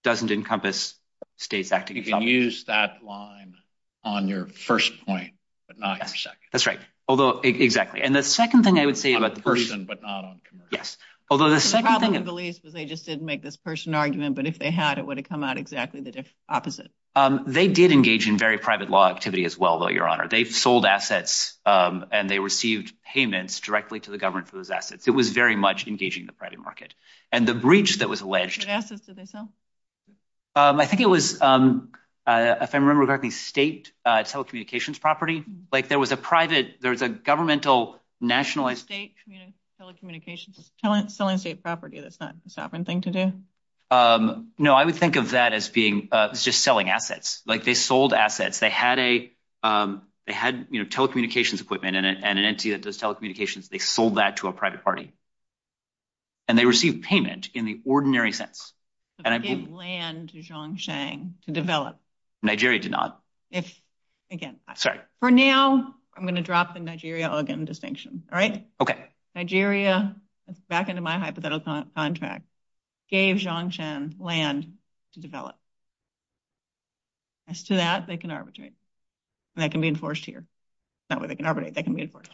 doesn't encompass states. You can use that line on your first point, but not your second. That's right. Although exactly. And the second thing I would say about the person, but not on, yes, although the second thing that they just didn't make this person argument, but if they had, it would have come out exactly the opposite. Um, they did engage in very private law activity as well, but your honor, they sold assets, um, and they received payments directly to the government for those assets. It was very much engaging the private market and the breach that alleged. Um, I think it was, um, uh, if I remember correctly, state, uh, telecommunications property, like there was a private, there's a governmental nationalized state telecommunications selling state property. That's not a sovereign thing to do. Um, no, I would think of that as being, uh, it's just selling assets. Like they sold assets. They had a, um, they had, you know, telecommunications equipment and an entity that does telecommunications. They sold that to a and I gave land to John saying to develop Nigeria did not, if again, sorry for now, I'm going to drop the Nigeria organ distinction. All right. Okay. Nigeria back into my hypothetical contract gave John Chen land to develop as to that. They can arbitrate and that can be enforced here. That way they can arbitrate. They can be enforced.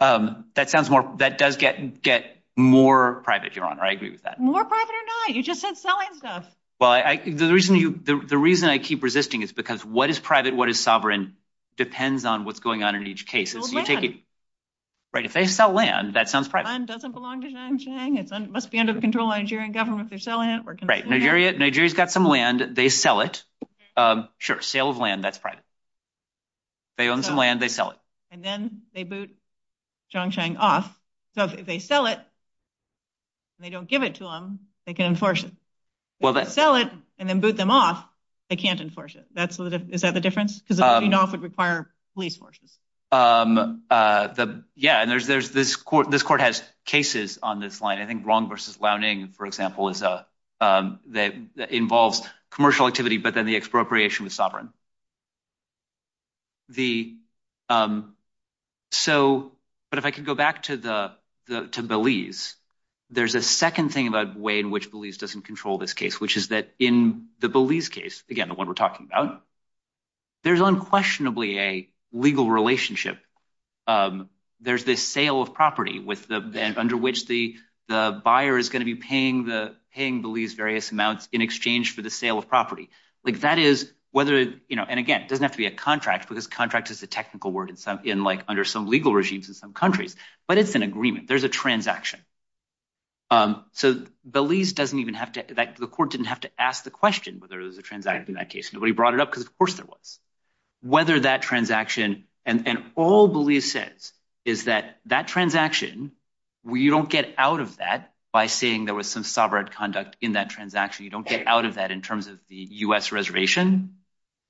Um, that sounds more, that does get, get more private. You're more private or not. You just said selling stuff. Well, I, I, the reason you, the reason I keep resisting is because what is private, what is sovereign depends on what's going on in each case. Right. If they sell land, that sounds doesn't belong to John Chang. It must be under the control of Nigerian government. They're selling it. We're right. Nigeria, Nigeria's got some land. They sell it. Um, sure. Sale of land. That's private. They own some land. They sell it. And then they boot John Chang off. So if they sell it and they don't give it to them, they can enforce it. Well, they sell it and then boot them off. They can't enforce it. That's what, is that the difference? Cause you know, it would require police forces. Um, uh, the, yeah, and there's, there's this court, this court has cases on this line. I think wrong versus loudening, for example, is, uh, um, that involves commercial activity, but then the expropriation is sovereign. The, um, so, but if I could go back to the, the, to Belize, there's a second thing about way in which Belize doesn't control this case, which is that in the Belize case, again, the one we're talking about, there's unquestionably a legal relationship. Um, there's this sale of property with the, under which the, the buyer is going to be paying the, paying Belize various amounts in exchange for the sale of property. Like that is whether, you know, and again, it doesn't have to be a contract because contract is the technical word in some, in like under some legal regimes in some countries, but it's an agreement, there's a transaction. Um, so Belize doesn't even have to, the court didn't have to ask the question whether it was a transaction in that case, nobody brought it up because of course there was. Whether that transaction and all Belize says is that that transaction, we don't get out of that by saying there was some sovereign conduct in that transaction. You don't get out of that in terms of the U.S. reservation,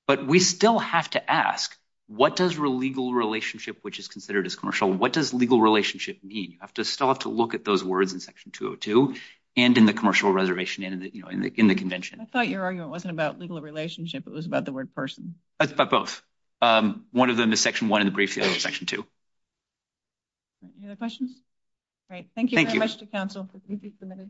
but we still have to ask what does real legal relationship, which is considered as commercial, what does legal relationship mean? You have to still have to look at those words in section 202 and in the commercial reservation and in the, you know, in the, in the convention. I thought your argument wasn't about legal relationship, it was about the word person. That's about both. Um, one of them is section one in the briefcase section two. Any other questions? All right, thank you.